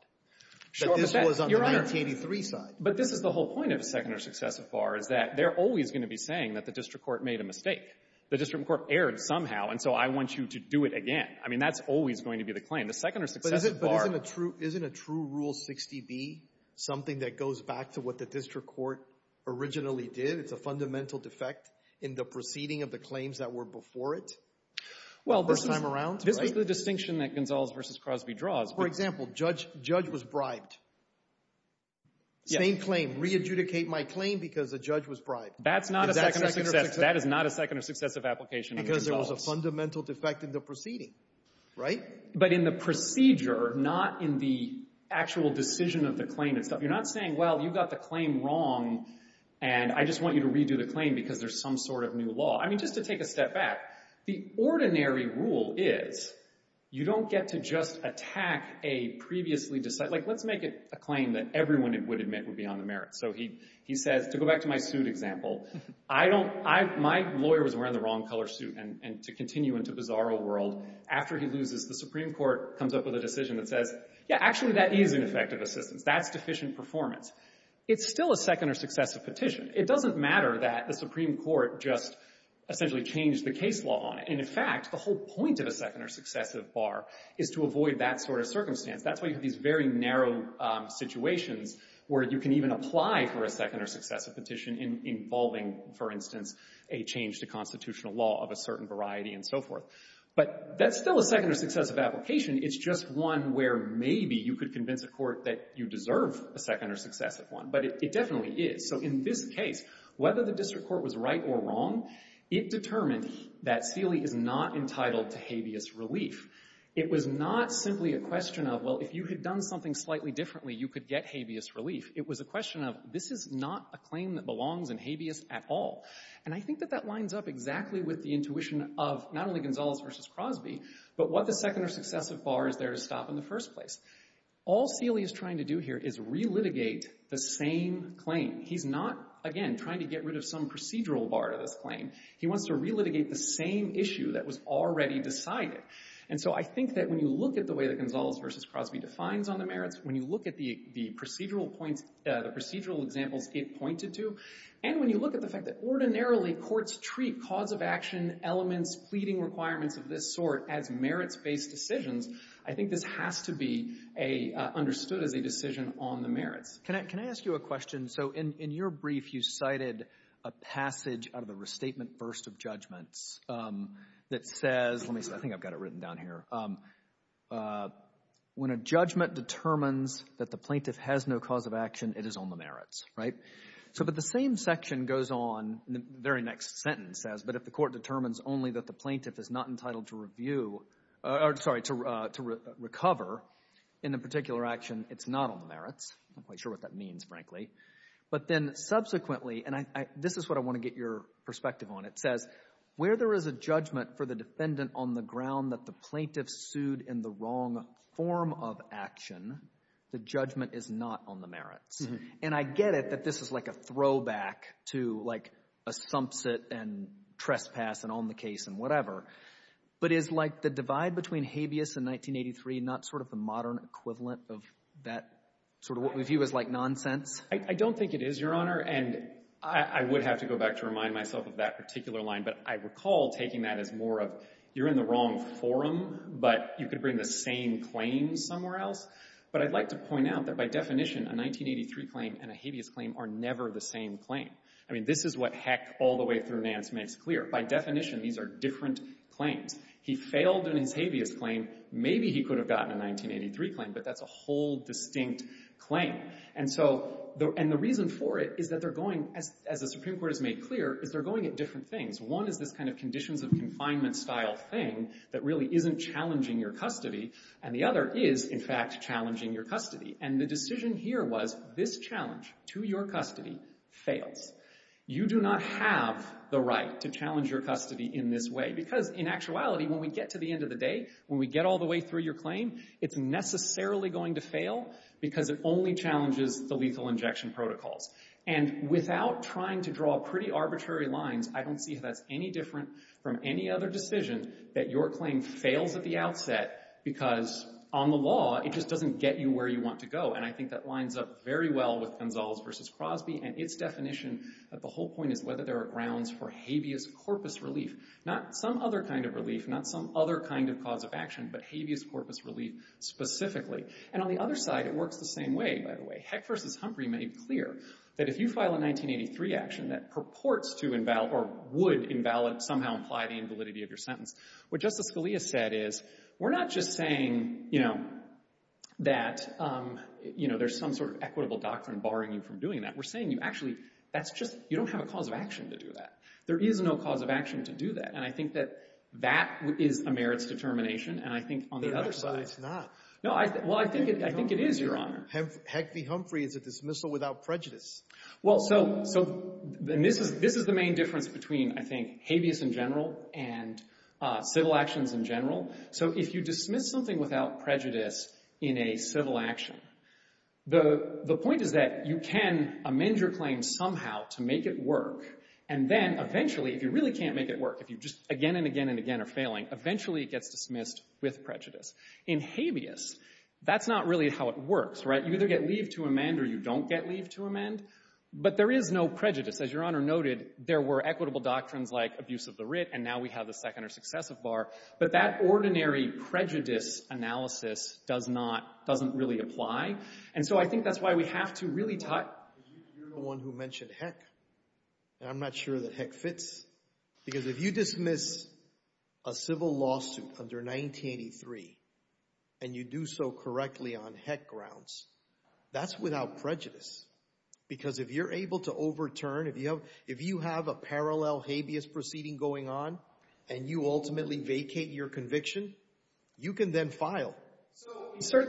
that this was on the 1983 side. But this is the whole point of the Techner Successive Bar is that they're always going to be saying that the district court made a mistake. The district court erred somehow, and so I want you to do it again. I mean, that's always going to be the claim. But isn't a true Rule 60b something that goes back to what the district court originally did? It's a fundamental defect in the proceeding of the claims that were before it the first time around? This is the distinction that Gonzales v. Crosby draws. For example, judge was bribed. Same claim, re-adjudicate my claim because the judge was bribed. That is not a second or successive application in Gonzales. Because there was a fundamental defect in the proceeding, right? But in the procedure, not in the actual decision of the claim itself. You're not saying, well, you got the claim wrong, and I just want you to redo the claim because there's some sort of new law. I mean, just to take a step back, the ordinary rule is you don't get to just attack a previously decided. Like, let's make it a claim that everyone would admit would be on the merits. So he says, to go back to my suit example, my lawyer was wearing the wrong color suit. And to continue into bizarro world, after he loses, the Supreme Court comes up with a decision that says, yeah, actually that is an effective decision. That's deficient performance. It's still a second or successive petition. It doesn't matter that the Supreme Court just essentially changed the case law on it. And, in fact, the whole point of a second or successive bar is to avoid that sort of circumstance. That's why you have these very narrow situations where you can even apply for a second or successive petition involving, for instance, a change to constitutional law of a certain variety and so forth. But that's still a second or successive application. It's just one where maybe you could convince a court that you deserve a second or successive one. But it definitely is. So in this case, whether the district court was right or wrong, it determines that Seeley is not entitled to habeas relief. It was not simply a question of, well, if you had done something slightly differently, you could get habeas relief. It was a question of, this is not a claim that belongs in habeas at all. And I think that that lines up exactly with the intuition of not only Gonzalez versus Crosby, but what the second or successive bar is there to stop in the first place. All Seeley is trying to do here is relitigate the same claim. He's not, again, trying to get rid of some procedural bar to this claim. He wants to relitigate the same issue that was already decided. And so I think that when you look at the way that Gonzalez versus Crosby defines on the merits, when you look at the procedural examples it pointed to, and when you look at the fact that ordinarily courts treat cause of action elements, pleading requirements of this sort as merits-based decisions, I think this has to be understood as a decision on the merits. Can I ask you a question? So in your brief you cited a passage out of the Restatement Burst of Judgments that says, let me see, I think I've got it written down here, when a judgment determines that the plaintiff has no cause of action, it is on the merits. So that the same section goes on in the very next sentence, but if the court determines only that the plaintiff is not entitled to review, sorry, to recover in a particular action, it's not on the merits. I'm not quite sure what that means, frankly. But then subsequently, and this is what I want to get your perspective on, it says where there is a judgment for the defendant on the ground that the plaintiff sued in the wrong form of action, the judgment is not on the merits. And I get it that this is like a throwback to like a sumps it and trespass and on the case and whatever, but is like the divide between habeas and 1983 not sort of the modern equivalent of that sort of what we view as like nonsense? I don't think it is, Your Honor, and I would have to go back to remind myself of that particular line. But I recall taking that as more of you're in the wrong forum, but you could bring the same claim somewhere else. But I'd like to point out that by definition, a 1983 claim and a habeas claim are never the same claim. I mean this is what Heck all the way through Nance makes clear. By definition, these are different claims. He failed in a habeas claim. Maybe he could have gotten a 1983 claim, but that's a whole distinct claim. And the reason for it is that they're going, as the Supreme Court has made clear, is they're going at different things. One is this kind of conditions of confinement style thing that really isn't challenging your custody, and the other is, in fact, challenging your custody. And the decision here was this challenge to your custody fails. You do not have the right to challenge your custody in this way because, in actuality, when we get to the end of the day, when we get all the way through your claim, it's necessarily going to fail because it only challenges the lethal injection protocol. And without trying to draw pretty arbitrary lines, I don't see that any different from any other decision that your claim fails at the outset because, on the law, it just doesn't get you where you want to go. And I think that lines up very well with Gonzales v. Crosby, and its definition at the whole point is whether there are grounds for habeas corpus relief. Not some other kind of relief, not some other kind of cause of action, but habeas corpus relief specifically. And on the other side, it works the same way, by the way. Heck v. Humphrey made it clear that if you file a 1983 action that purports to invalidate or would invalidate somehow imply the invalidity of your sentence. What Justice Scalia said is, we're not just saying that there's some sort of equitable doctrine barring you from doing that. We're saying, actually, you don't have a cause of action to do that. There is no cause of action to do that, and I think that that is a merits determination, and I think on the other side— It's not. Well, I think it is, Your Honor. Heck v. Humphrey is a dismissal without prejudice. Well, so this is the main difference between, I think, habeas in general and civil actions in general. So if you dismiss something without prejudice in a civil action, the point is that you can amend your claim somehow to make it work, and then eventually, if you really can't make it work, if you just again and again and again are failing, eventually it gets dismissed with prejudice. In habeas, that's not really how it works, right? You either get leave to amend or you don't get leave to amend, but there is no prejudice. As Your Honor noted, there were equitable doctrines like abuse of the writ, and now we have the second or successive bar, but that ordinary prejudice analysis doesn't really apply, and so I think that's why we have to really cut— You're the one who mentioned heck, and I'm not sure that heck fits, because if you dismiss a civil lawsuit under 1983 and you do so correctly on heck grounds, that's without prejudice, because if you're able to overturn, if you have a parallel habeas proceeding going on and you ultimately vacate your conviction, you can then file. So,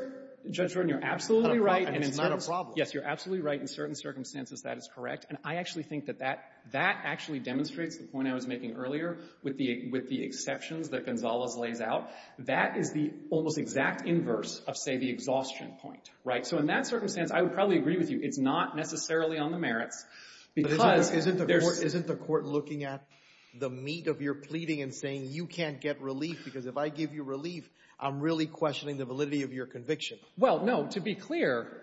Your Honor, you're absolutely right, and it's not a problem. Yes, you're absolutely right in certain circumstances that it's correct, and I actually think that that actually demonstrates the point I was making earlier with the exceptions that Gonzalez lays out. That is the almost exact inverse of, say, the exhaustion point, right? So in that circumstance, I would probably agree with you it's not necessarily on the merits, because isn't the court looking at the meat of your pleading and saying you can't get relief, because if I give you relief, I'm really questioning the validity of your conviction? Well, no. To be clear,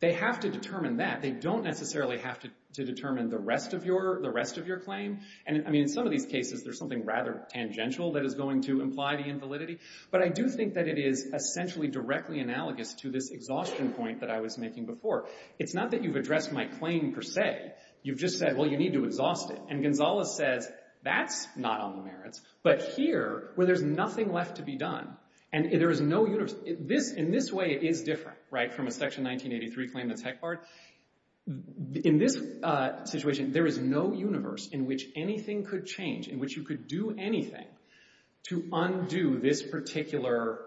they have to determine that. They don't necessarily have to determine the rest of your claim. And, I mean, in some of these cases, there's something rather tangential that is going to imply the invalidity, but I do think that it is essentially directly analogous to this exhaustion point that I was making before. It's not that you've addressed my claim per se. You've just said, well, you need to exhaust it, and Gonzalez says that's not on the merits, but here, where there's nothing left to be done, and there is no universe. So in this way, it is different, right, from a Section 1983 claim in the Tech Parts. In this situation, there is no universe in which anything could change, in which you could do anything to undo this particular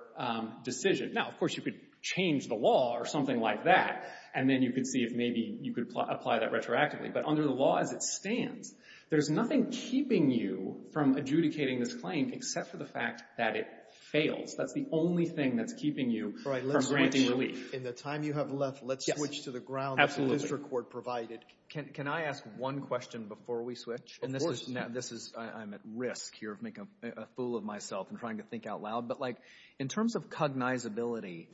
decision. Now, of course, you could change the law or something like that, and then you could see if maybe you could apply that retroactively, but under the law as it stands, there's nothing keeping you from adjudicating this claim except for the fact that it failed. That's the only thing that's keeping you from granting relief. In the time you have left, let's switch to the ground that the district court provided. Can I ask one question before we switch? Of course. This is – I'm at risk here of making a fool of myself and trying to think out loud, but in terms of cognizability,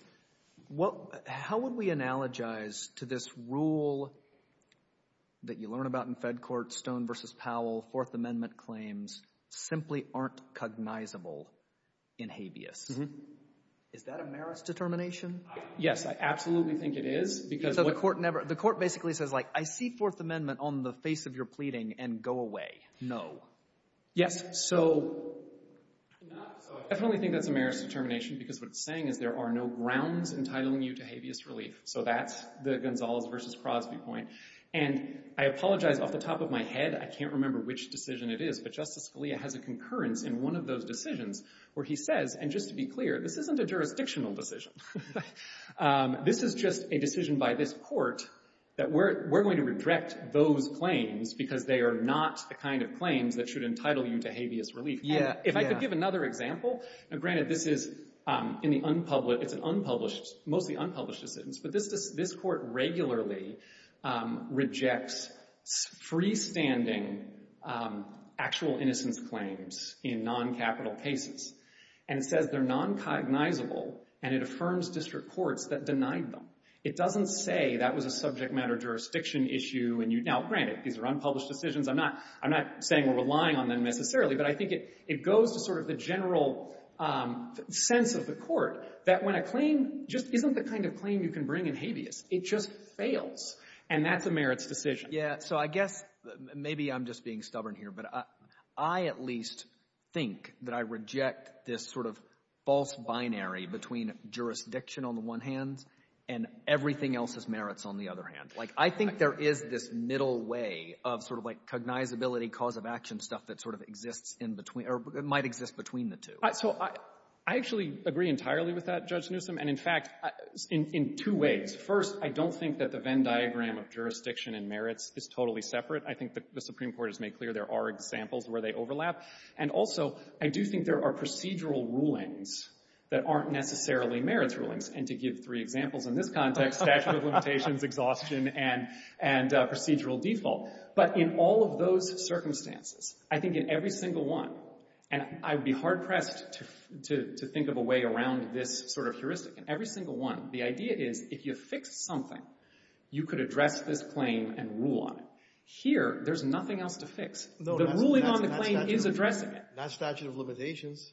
how would we analogize to this rule that you learn about in Fed court, Stone v. Powell, Fourth Amendment claims simply aren't cognizable in habeas? Is that a merits determination? Yes, I absolutely think it is because what – So the court never – the court basically says I see Fourth Amendment on the face of your pleading and go away. No. Yes, so I probably think that's a merits determination because what it's saying is there are no grounds entitling you to habeas relief. So that's the Gonzales v. Crosby point. And I apologize off the top of my head. I can't remember which decision it is, but Justice Scalia has a concurrence in one of those decisions where he says, and just to be clear, this isn't a jurisdictional decision. This is just a decision by this court that we're going to reject those claims because they are not the kind of claims that should entitle you to habeas relief. Yeah, if I could give another example. Granted, this is in the unpublished – it's an unpublished – mostly unpublished decisions, but this court regularly rejects freestanding actual innocence claims in noncapital cases and says they're noncognizable, and it affirms district courts that deny them. It doesn't say that was a subject matter jurisdiction issue. Now, granted, these are unpublished decisions. I'm not saying we're relying on them necessarily, but I think it goes to sort of the general sense of the court that when a claim just isn't the kind of claim you can bring in habeas. It just fails, and that's a merits decision. So I guess – maybe I'm just being stubborn here, but I at least think that I reject this sort of false binary between jurisdiction on the one hand and everything else's merits on the other hand. Like I think there is this middle way of sort of like cognizability, cause of action stuff that sort of exists in between – or might exist between the two. So I actually agree entirely with that, Judge Newsom, and in fact in two ways. First, I don't think that the Venn diagram of jurisdiction and merits is totally separate. I think the Supreme Court has made clear there are examples where they overlap. And also, I do think there are procedural rulings that aren't necessarily merits rulings. And to give three examples in this context, statute of limitations, exhaustion, and procedural default. But in all of those circumstances, I think in every single one – and I'd be hard-pressed to think of a way around this sort of jurisdiction. Every single one. The idea is if you fix something, you could address this claim and rule on it. Here, there's nothing else to fix. The ruling on the claim is addressing it. That's statute of limitations.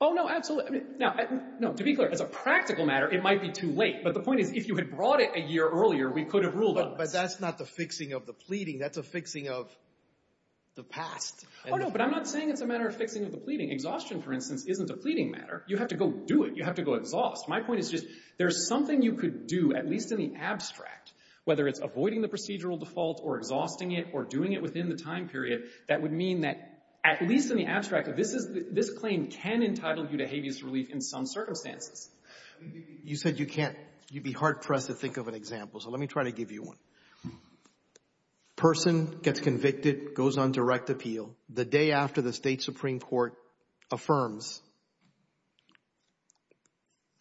Oh, no, absolutely. To be clear, as a practical matter, it might be too late. But the point is if you had brought it a year earlier, we could have ruled on it. But that's not the fixing of the pleading. That's a fixing of the past. Oh, no, but I'm not saying it's a matter of fixing the pleading. Exhaustion, for instance, isn't the pleading matter. You have to go do it. You have to go exhaust. My point is just there's something you could do, at least in the abstract, whether it's avoiding the procedural default or exhausting it or doing it within the time period, that would mean that, at least in the abstract, this claim can entitle you to habeas relief in some circumstance. You said you can't. You'd be hard-pressed to think of an example, so let me try to give you one. A person gets convicted, goes on direct appeal. The day after the state Supreme Court affirms,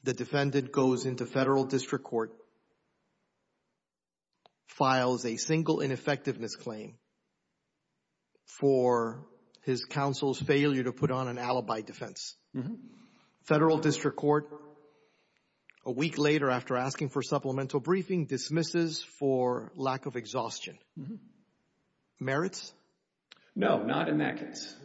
the defendant goes into federal district court, files a single ineffectiveness claim for his counsel's failure to put on an alibi defense. Federal district court, a week later after asking for supplemental briefing, dismisses for lack of exhaustion. Merits? No, not in that case.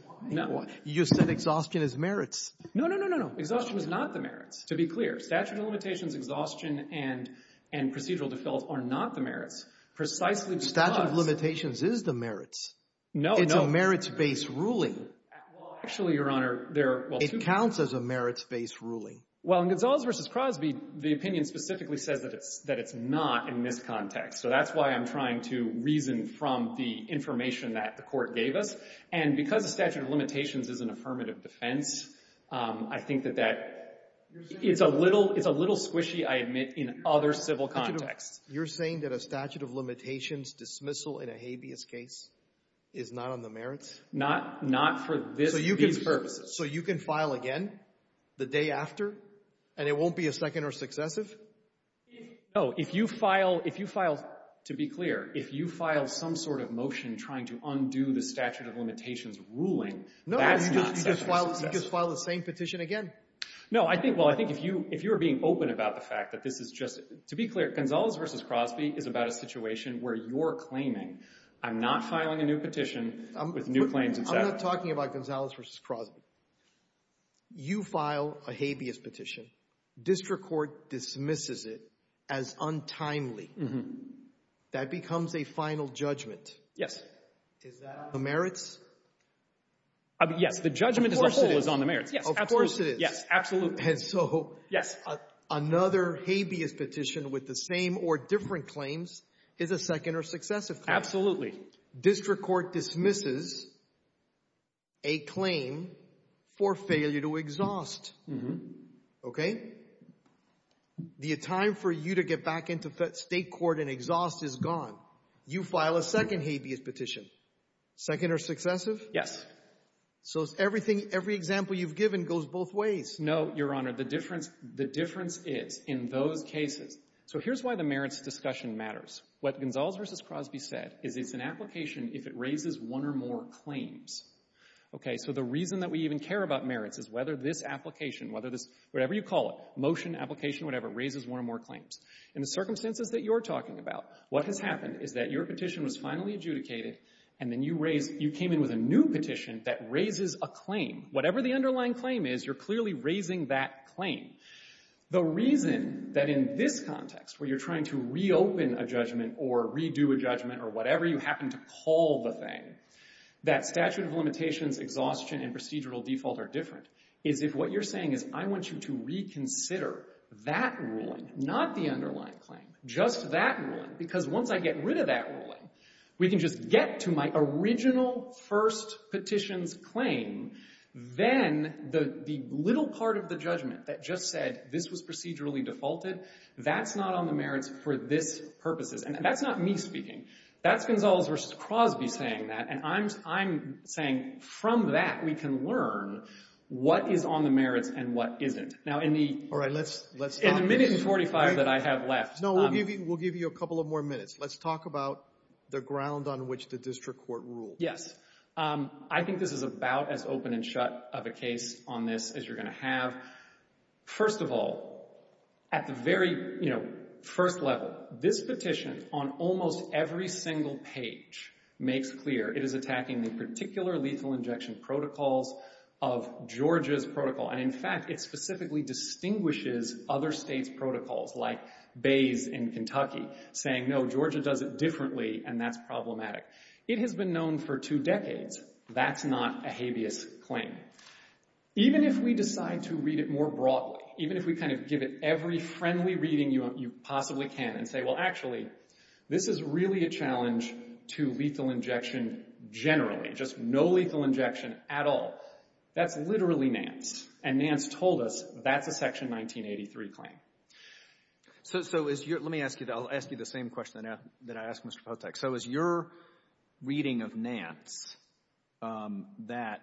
You said exhaustion is merits. No, no, no, no, no. Exhaustion is not the merits. To be clear, statute of limitations, exhaustion, and procedural default are not the merits. Precisely because — Statute of limitations is the merits. No, no. It's a merits-based ruling. Well, actually, Your Honor, there are — It counts as a merits-based ruling. Well, in Gonzales v. Crosby, the opinion specifically says that it's not in this context. So that's why I'm trying to reason from the information that the court gave us. And because the statute of limitations is an affirmative defense, I think that that is a little squishy, I admit, in other civil contexts. You're saying that a statute of limitations dismissal in a habeas case is not on the merits? Not for this being the purpose. So you can file again the day after, and it won't be a second or successive? Oh, if you file — To be clear, if you file some sort of motion trying to undo the statute of limitations ruling — No, you just file the same petition again. No, I think — well, I think if you're being open about the fact that this is just — To be clear, Gonzales v. Crosby is about a situation where you're claiming, I'm not filing a new petition with new claims. I'm not talking about Gonzales v. Crosby. You file a habeas petition. District court dismisses it as untimely. That becomes a final judgment. Yes. Is that on the merits? Yes, the judgment as a whole is on the merits. Of course it is. Yes, absolutely. And so another habeas petition with the same or different claims is a second or successive. Absolutely. District court dismisses a claim for failure to exhaust. Mm-hmm. Okay? The time for you to get back into state court and exhaust is gone. You file a second habeas petition. Second or successive? Yes. So every example you've given goes both ways. No, Your Honor, the difference is in those cases — So here's why the merits discussion matters. What Gonzales v. Crosby said is it's an application if it raises one or more claims. So the reason that we even care about merits is whether this application, whatever you call it, motion, application, whatever, raises one or more claims. In the circumstances that you're talking about, what has happened is that your petition was finally adjudicated, and then you came in with a new petition that raises a claim. Whatever the underlying claim is, you're clearly raising that claim. The reason that in this context where you're trying to reopen a judgment or redo a judgment or whatever you happen to call the thing, that statute of limitations, exhaustion, and procedural defaults are different, is if what you're saying is I want you to reconsider that ruling, not the underlying claim, just that ruling. Because once I get rid of that ruling, we can just get to my original first petition's claim. Then the little part of the judgment that just said this was procedurally defaulted, that's not on the merits for this purposes. And that's not me speaking. That's Gonzalez v. Crosby saying that, and I'm saying from that we can learn what is on the merits and what isn't. Now in the minute and 45 that I have left. No, we'll give you a couple of more minutes. Let's talk about the ground on which the district court rules. Yes. I think this is about as open and shut of a case on this as you're going to have. First of all, at the very first level, this petition on almost every single page makes clear it is attacking the particular lethal injection protocol of Georgia's protocol. And, in fact, it specifically distinguishes other states' protocols like Bayes in Kentucky saying, no, Georgia does it differently and that's problematic. It has been known for two decades that's not a habeas claim. Even if we decide to read it more broadly, even if we kind of give it every friendly reading you possibly can and say, well, actually, this is really a challenge to lethal injection generally, just no lethal injection at all. That's literally NANST. And NANST told us that's a Section 1983 claim. So let me ask you the same question that I asked Mr. Potek. So is your reading of NANST that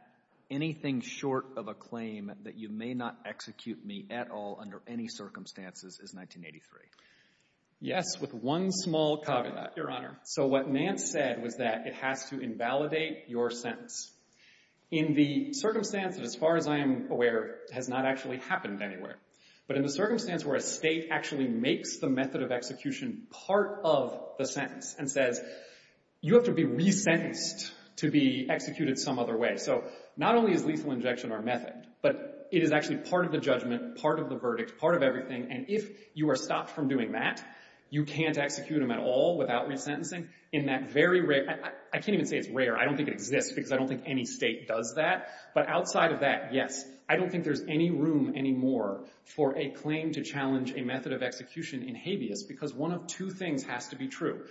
anything short of a claim that you may not execute me at all under any circumstances is 1983? Yes, with one small caveat, Your Honor. So what NANST said was that it has to invalidate your sentence. In the circumstance that, as far as I'm aware, has not actually happened anywhere, but in the circumstance where a state actually makes the method of execution part of the sentence and says you have to be resentenced to be executed some other way. So not only is lethal injection our method, but it is actually part of the judgment, part of the verdict, part of everything. And if you are stopped from doing that, you can't execute them at all without resentencing. I can't even say it's rare. I don't think it exists because I don't think any state does that. But outside of that, yes, I don't think there's any room anymore for a claim to challenge a method of execution in habeas because one of two things has to be true.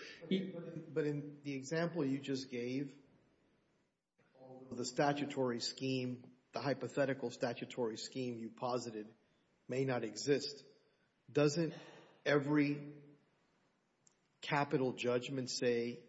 But in the example you just gave, the statutory scheme, the hypothetical statutory scheme you posited may not exist. Doesn't every capital judgment say,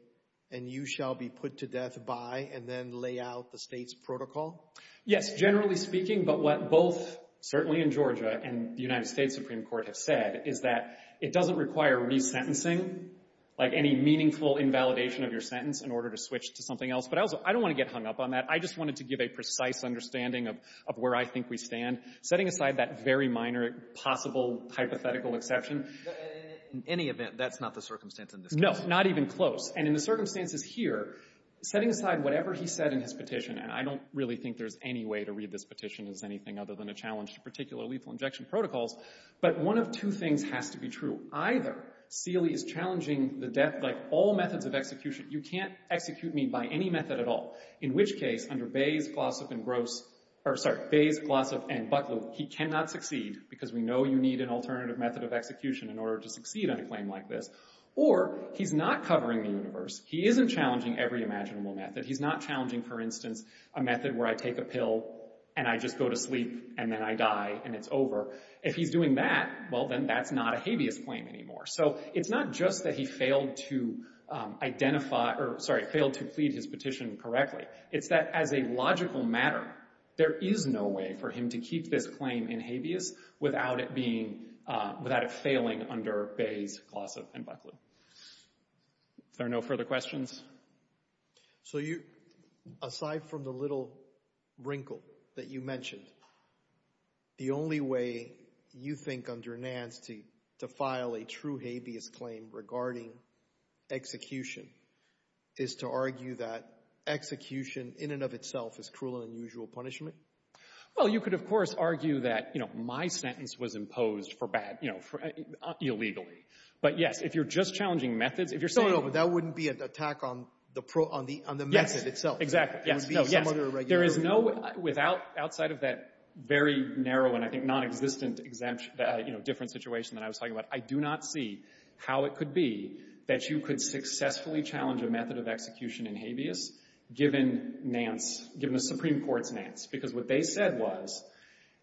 and you shall be put to death by, and then lay out the state's protocol? Yes, generally speaking, but what both, certainly in Georgia and the United States Supreme Court have said, is that it doesn't require resentencing, like any meaningful invalidation of your sentence in order to switch to something else. But I don't want to get hung up on that. I just wanted to give a precise understanding of where I think we stand, setting aside that very minor possible hypothetical exception. In any event, that's not the circumstance. No, not even close. And in the circumstances here, setting aside whatever he said in his petition, I don't really think there's any way to read this petition as anything other than a challenge to particular lethal injection protocols. But one of two things has to be true. Either Steele is challenging the death by all methods of execution. You can't execute me by any method at all. In which case, under Bayes, Glossop, and Butler, he cannot succeed because we know you need an alternative method of execution in order to succeed on a claim like this. Or he's not covering the universe. He isn't challenging every imaginable method. He's not challenging, for instance, a method where I take a pill and I just go to sleep and then I die and it's not working. If he's doing that, well, then that's not a habeas claim anymore. So it's not just that he failed to identify, or sorry, failed to read his petition correctly. It's that as a logical matter, there is no way for him to keep this claim in habeas without it being, without it failing under Bayes, Glossop, and Butler. Are there no further questions? So you, aside from the little wrinkle that you mentioned, the only way you think under Nance to file a true habeas claim regarding execution is to argue that execution in and of itself is cruel and unusual punishment? Well, you could, of course, argue that, you know, my sentence was imposed for bad, you know, illegally. But yes, if you're just challenging methods, if you're saying- No, no, but that wouldn't be an attack on the method itself. Exactly. There is no, without, outside of that very narrow, and I think non-existent exempt, you know, different situation that I was talking about, I do not see how it could be that you could successfully challenge a method of execution in habeas given Nance, given the Supreme Court's Nance. Because what they said was,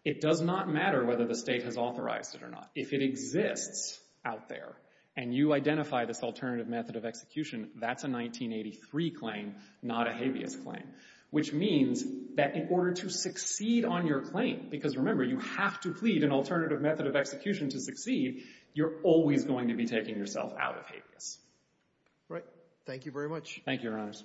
it does not matter whether the state has authorized it or not. If it exists out there and you identify this alternative method of execution, that's a 1983 claim, not a habeas claim. Which means that in order to succeed on your claim, because remember, you have to plead an alternative method of execution to succeed, you're always going to be taking yourself out of habeas. Right. Thank you very much. Thank you, Nance.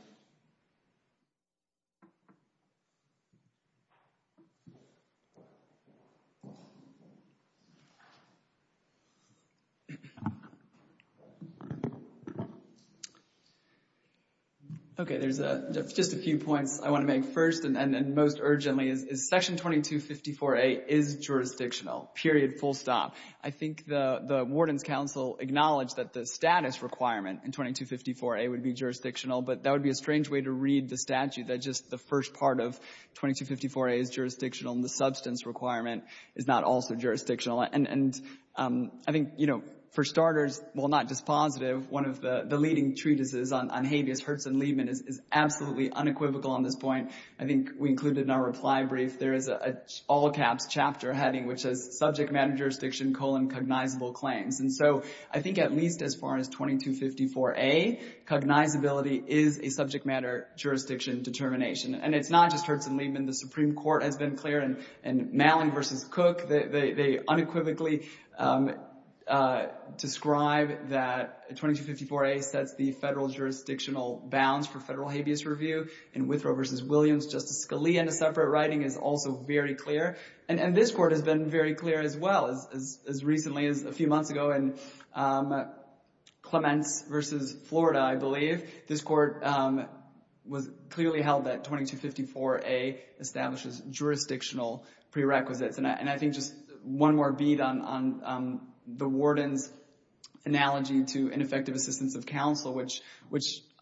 Okay, there's just a few points I want to make first and most urgently. Section 2254A is jurisdictional. Period. Full stop. I think the warden's council acknowledged that the status requirement in 2254A would be jurisdictional, but that would be a separate issue. First, I want to make a few points. I think it's a strange way to read the statute that just the first part of 2254A is jurisdictional and the substance requirement is not also jurisdictional. And I think, you know, for starters, well, not just positive, one of the leading treatises on habeas, Hurst and Liebman is absolutely unequivocal on this point. I think we include the number of libraries. There is an all caps chapter heading, which says subject matter jurisdiction colon cognizable claims. And so I think at least as far as 2254A, cognizability is a subject matter jurisdiction determination. And it's not just Hurst and Liebman. The Supreme Court has been clear in Malin versus Cook. They unequivocally describe that 2254A sets the federal jurisdictional bounds for federal habeas review. In Withrow versus Williams, Justice Scalia in a separate writing is also very clear. And this court has been very clear as well as recently as a few months ago in Clement versus Florida, I believe. This court was clearly held that 2254A establishes jurisdictional prerequisites. And I think just one more beat on the warden's analogy to ineffective assistance of counsel, which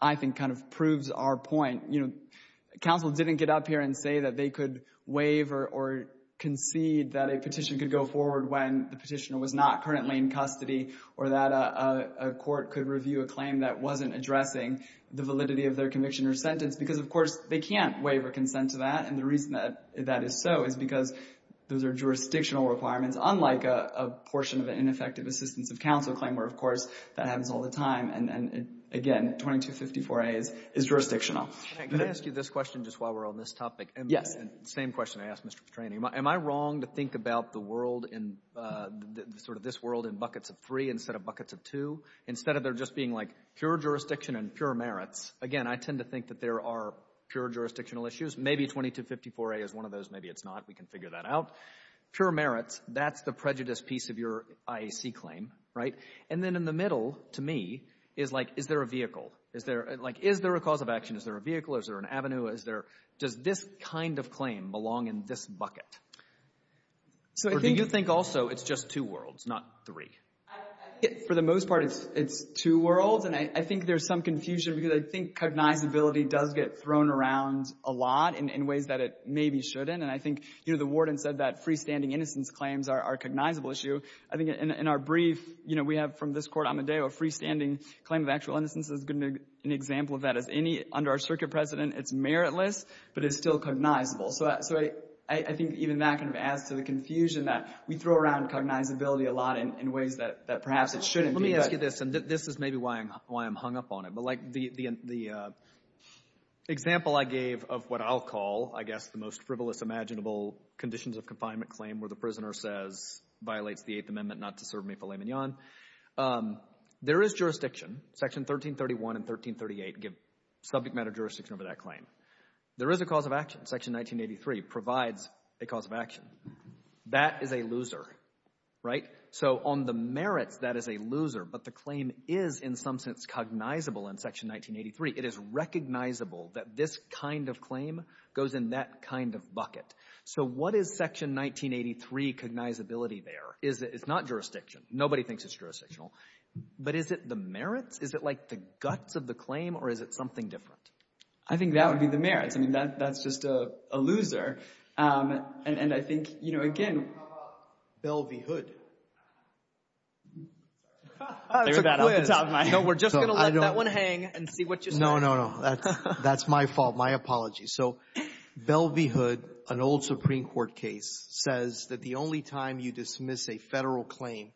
I think kind of proves our point. You know, counsel didn't get up here and say that they could waive or concede that a person is in custody or that a court could review a claim that wasn't addressing the validity of their conviction or sentence because, of course, they can't waive or consent to that. And the reason that is so is because those are jurisdictional requirements, unlike a portion of an ineffective assistance of counsel claim where, of course, that happens all the time. And, again, 2254A is jurisdictional. Can I ask you this question just while we're on this topic? Yes. Same question I asked Mr. Petrani. Am I wrong to think about the world and sort of this world in buckets of three instead of buckets of two? Instead of there just being, like, pure jurisdiction and pure merit, again, I tend to think that there are pure jurisdictional issues. Maybe 2254A is one of those. Maybe it's not. We can figure that out. Pure merit, that's the prejudice piece of your IAC claim, right? And then in the middle, to me, is, like, is there a vehicle? Like, is there a cause of action? Is there a vehicle? Is there an avenue? Does this kind of claim belong in this bucket? Or do you think also it's just two worlds, not three? For the most part, it's two worlds. And I think there's some confusion because I think cognizability does get thrown around a lot in ways that it maybe shouldn't. And I think, you know, the warden said that freestanding innocence claims are a cognizable issue. I think in our brief, you know, we have from this court, Amadeo, a freestanding claim of actual innocence is an example of that. Under our circuit precedent, it's meritless, but it's still cognizable. So I think even that kind of adds to the confusion that we throw around cognizability a lot in ways that perhaps it shouldn't. Let me ask you this, and this is maybe why I'm hung up on it. But, like, the example I gave of what I'll call, I guess, the most frivolous imaginable conditions of confinement claim where the prisoner says, violates the Eighth Amendment not to serve me filet mignon, there is jurisdiction, section 1331 and 1338 give subject matter jurisdiction over that claim. There is a cause of action. Section 1983 provides a cause of action. That is a loser. So on the merit, that is a loser, but the claim is in some sense cognizable in section 1983. It is recognizable that this kind of claim goes in that kind of bucket. So what is section 1983 cognizability there? It's not jurisdiction. Nobody thinks it's jurisdictional. But is it the merits? Is it, like, the guts of the claim, or is it something different? I think that would be the merits. I mean, that's just a loser. And I think, you know, again, Belle v. Hood. We're just going to let that one hang and see what you say. No, no, no. That's my fault. My apologies. So Belle v. Hood, an old Supreme Court case, says that the only time you dismiss a federal claim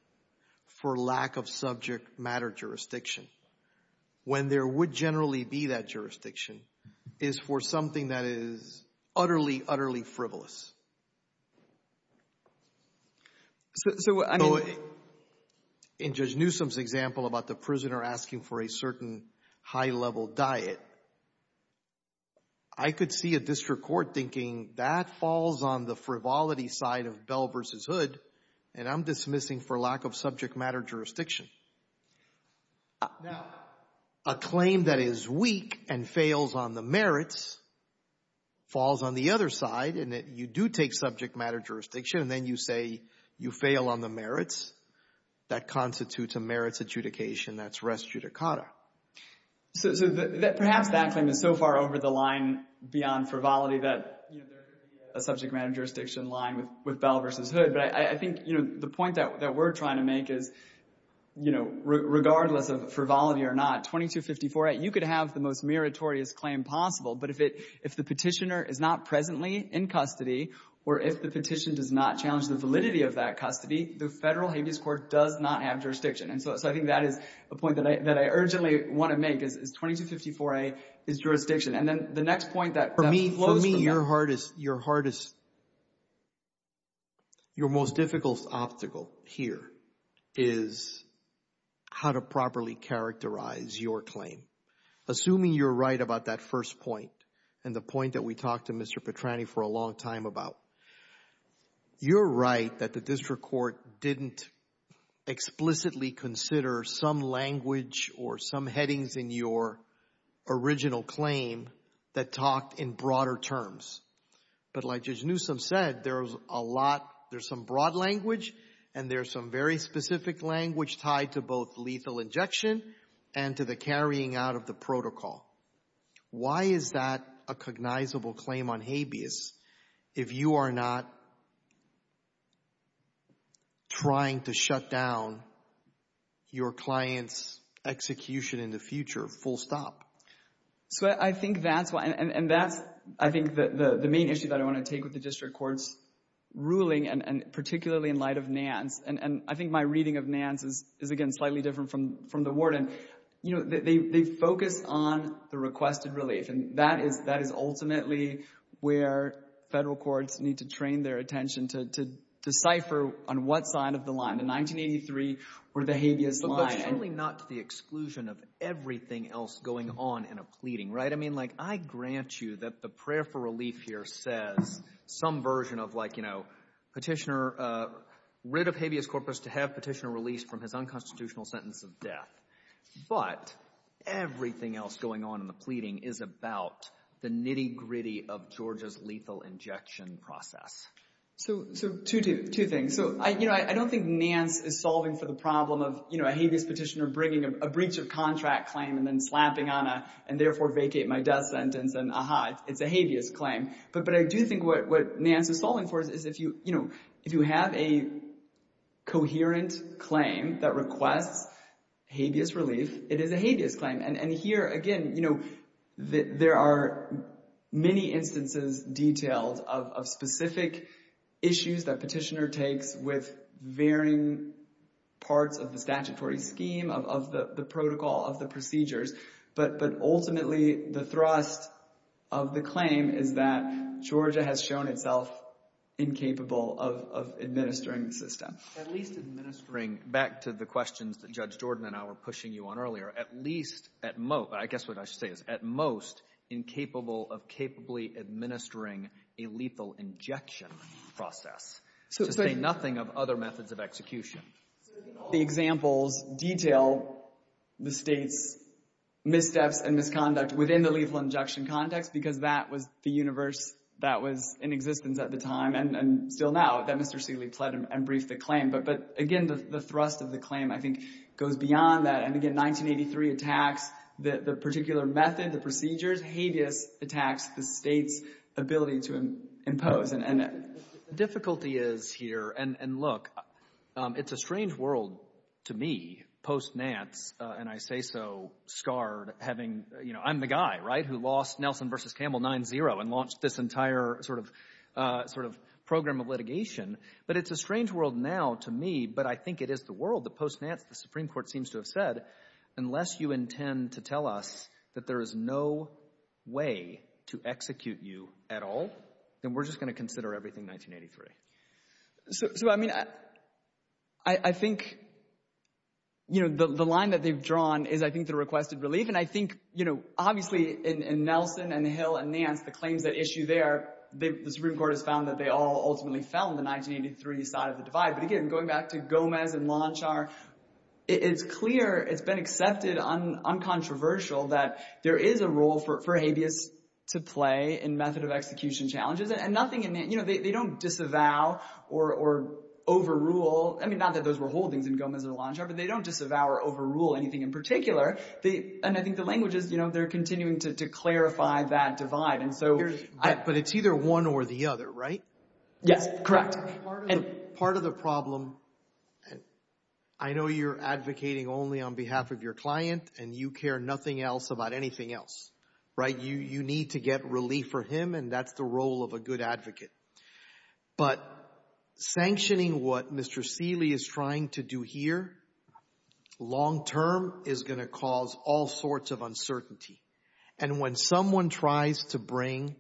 for lack of subject matter jurisdiction, when there would generally be that jurisdiction, is for something that is utterly, utterly frivolous. So, I mean, in Judge Newsom's example about the prisoner asking for a certain high-level diet, I could see a district court thinking, that falls on the frivolity side of Belle v. Hood, and I'm dismissing for lack of subject matter jurisdiction. Now, a claim that is weak and fails on the merits falls on the other side, and you do take subject matter jurisdiction, and then you say you fail on the merits. That constitutes a merits adjudication. That's res judicata. So perhaps that claim is so far over the line beyond frivolity that there could be a subject matter jurisdiction line with Belle v. Hood. But I think the point that we're trying to make is, you know, regardless of frivolity or not, 2254, you could have the most meritorious claim possible, but if the petitioner is not presently in custody, or if the petition does not challenge the validity of that custody, the federal habeas court does not have jurisdiction. And so I think that is a point that I urgently want to make, is 2254A is jurisdiction. And then the next point that flows from that. For me, your hardest – your most difficult obstacle here is how to properly characterize your claim. Assuming you're right about that first point, and the point that we talked to Mr. Petrani for a long time about, you're right that the district court didn't explicitly consider some language or some headings in your original claim that talked in broader terms. But like Judge Newsom said, there's a lot – there's some broad language and there's some very specific language tied to both lethal injection and to the carrying out of the protocol. Why is that a cognizable claim on habeas? If you are not trying to shut down your client's execution in the future, full stop. I think that's why – and that's, I think, the main issue that I want to take with the district court's ruling, and particularly in light of NANCE. And I think my reading of NANCE is, again, slightly different from the warden. You know, they focus on the requested relation. And that is ultimately where federal courts need to train their attention to decipher on what side of the line, the 1983 or the habeas line. But really not to the exclusion of everything else going on in a pleading, right? I mean, like I grant you that the prayer for relief here says some version of like, you know, petitioner – writ of habeas corpus to have petitioner released from his unconstitutional sentence of death. But everything else going on in the pleading is about the nitty-gritty of Georgia's lethal injection process. So two things. You know, I don't think NANCE is solving for the problem of, you know, a habeas petitioner bringing a breach of contract claim and then slapping on a and therefore vacate my death sentence and then, aha, it's a habeas claim. But I do think what NANCE is solving for is if you have a coherent claim that requests habeas relief, it is a habeas claim. And here, again, you know, there are many instances, details of specific issues that petitioner takes with varying parts of the statutory scheme, of the protocol, of the procedures. But ultimately the thrust of the claim is that Georgia has shown itself incapable of administering the system. At least administering – back to the questions that Judge Jordan and I were pushing you on earlier. At least – I guess what I should say is at most incapable of capably administering a lethal injection process. To say nothing of other methods of execution. The examples detail the state's missteps and misconduct within the lethal injection context because that was the universe that was in existence at the time and still now. That Mr. Seeley pled and briefed the claim. But, again, the thrust of the claim, I think, goes beyond that. And, again, 1983 attacks the particular method, the procedures. Habeas attacks the state's ability to impose. And the difficulty is here – and look, it's a strange world to me post-NANCE, and I say so scarred having – you know, I'm the guy, right, who lost Nelson v. Campbell 9-0 and launched this entire sort of program of litigation. But it's a strange world now to me, but I think it is the world. The post-NANCE, the Supreme Court seems to have said, unless you intend to tell us that there is no way to execute you at all, then we're just going to consider everything 1983. So, I mean, I think, you know, the line that they've drawn is, I think, the requested relief. And I think, you know, obviously in Nelson and Hill and NANCE, the claims that issue there, the Supreme Court has found that they all ultimately fell on the 1983 side of the divide. But, again, going back to Gomez and Lonchar, it's clear, it's been accepted, uncontroversial that there is a role for Habeas to play in method of execution challenges. And nothing – you know, they don't disavow or overrule – I mean, not that those were holdings in Gomez and Lonchar, but they don't disavow or overrule anything in particular. And I think the language is, you know, they're continuing to clarify that divide. But it's either one or the other, right? Yes, correct. Part of the problem, I know you're advocating only on behalf of your client and you care nothing else about anything else, right? You need to get relief for him and that's the role of a good advocate. But sanctioning what Mr. Seeley is trying to do here long-term is going to cause all sorts of uncertainty. And when someone tries to bring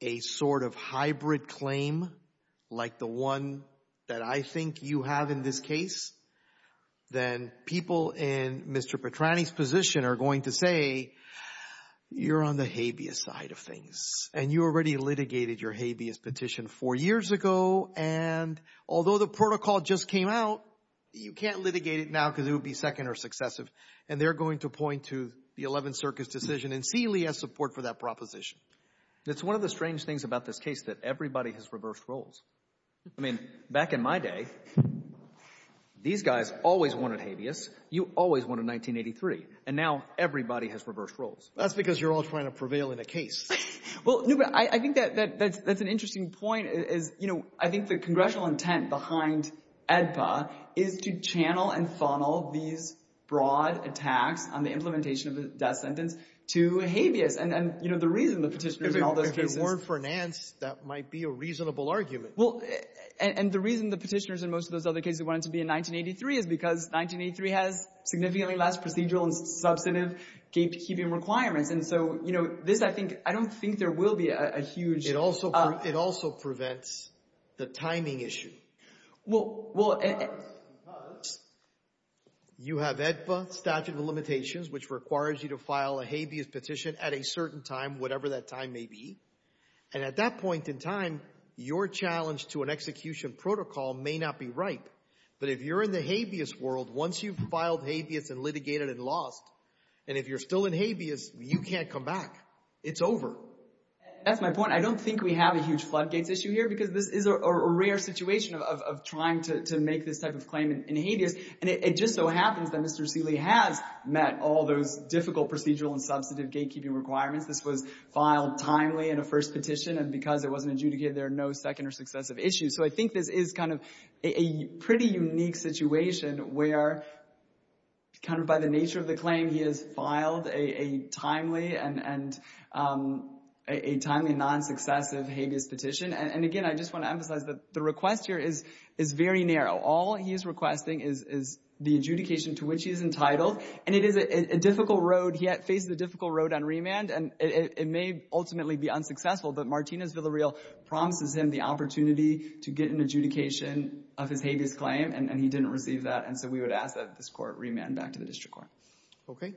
a sort of hybrid claim, like the one that I think you have in this case, then people in Mr. Petrani's position are going to say, you're on the Habeas side of things and you already litigated your Habeas petition four years ago. And although the protocol just came out, you can't litigate it now because it would be second or successive. And they're going to point to the 11th Circus decision and see Lee has support for that proposition. That's one of the strange things about this case, that everybody has reversed roles. I mean, back in my day, these guys always wanted Habeas. You always wanted 1983. And now everybody has reversed roles. That's because you're always trying to prevail in a case. Well, I think that's an interesting point. You know, I think the congressional intent behind EDSA is to channel and funnel these broad attacks on the implementation of that sentence to Habeas. And, you know, the reason the petitioners in all those cases— If it weren't for Nance, that might be a reasonable argument. Well, and the reason the petitioners in most of those other cases wanted it to be in 1983 is because 1983 has significantly less procedural and substantive gatekeeping requirements. And so, you know, this, I don't think there will be a huge— It also prevents the timing issue. Well, you have EDSA statute of limitations, which requires you to file a Habeas petition at a certain time, whatever that time may be. And at that point in time, your challenge to an execution protocol may not be right. But if you're in the Habeas world, once you've filed Habeas and litigated and lost, and if you're still in Habeas, you can't come back. It's over. That's my point. I don't think we have a huge floodgates issue here because this is a rare situation of trying to make this type of claim in Habeas. And it just so happens that Mr. Seeley has met all the difficult procedural and substantive gatekeeping requirements. This was filed timely in a first petition, and because it wasn't adjudicated, there are no second or successive issues. So I think this is kind of a pretty unique situation where kind of by the nature of the claim, he has filed a timely and non-successive Habeas petition. And again, I just want to emphasize that the request here is very narrow. All he is requesting is the adjudication to which he is entitled. And it is a difficult road. He faces a difficult road on remand. And it may ultimately be unsuccessful, but Martinez Villarreal promises him the opportunity to get an adjudication of his Habeas claim, and he didn't receive that. And so we would ask that this court remand back to the district court. Okay.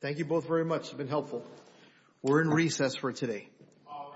Thank you both very much. It's been helpful. We're in recess for today. All rise.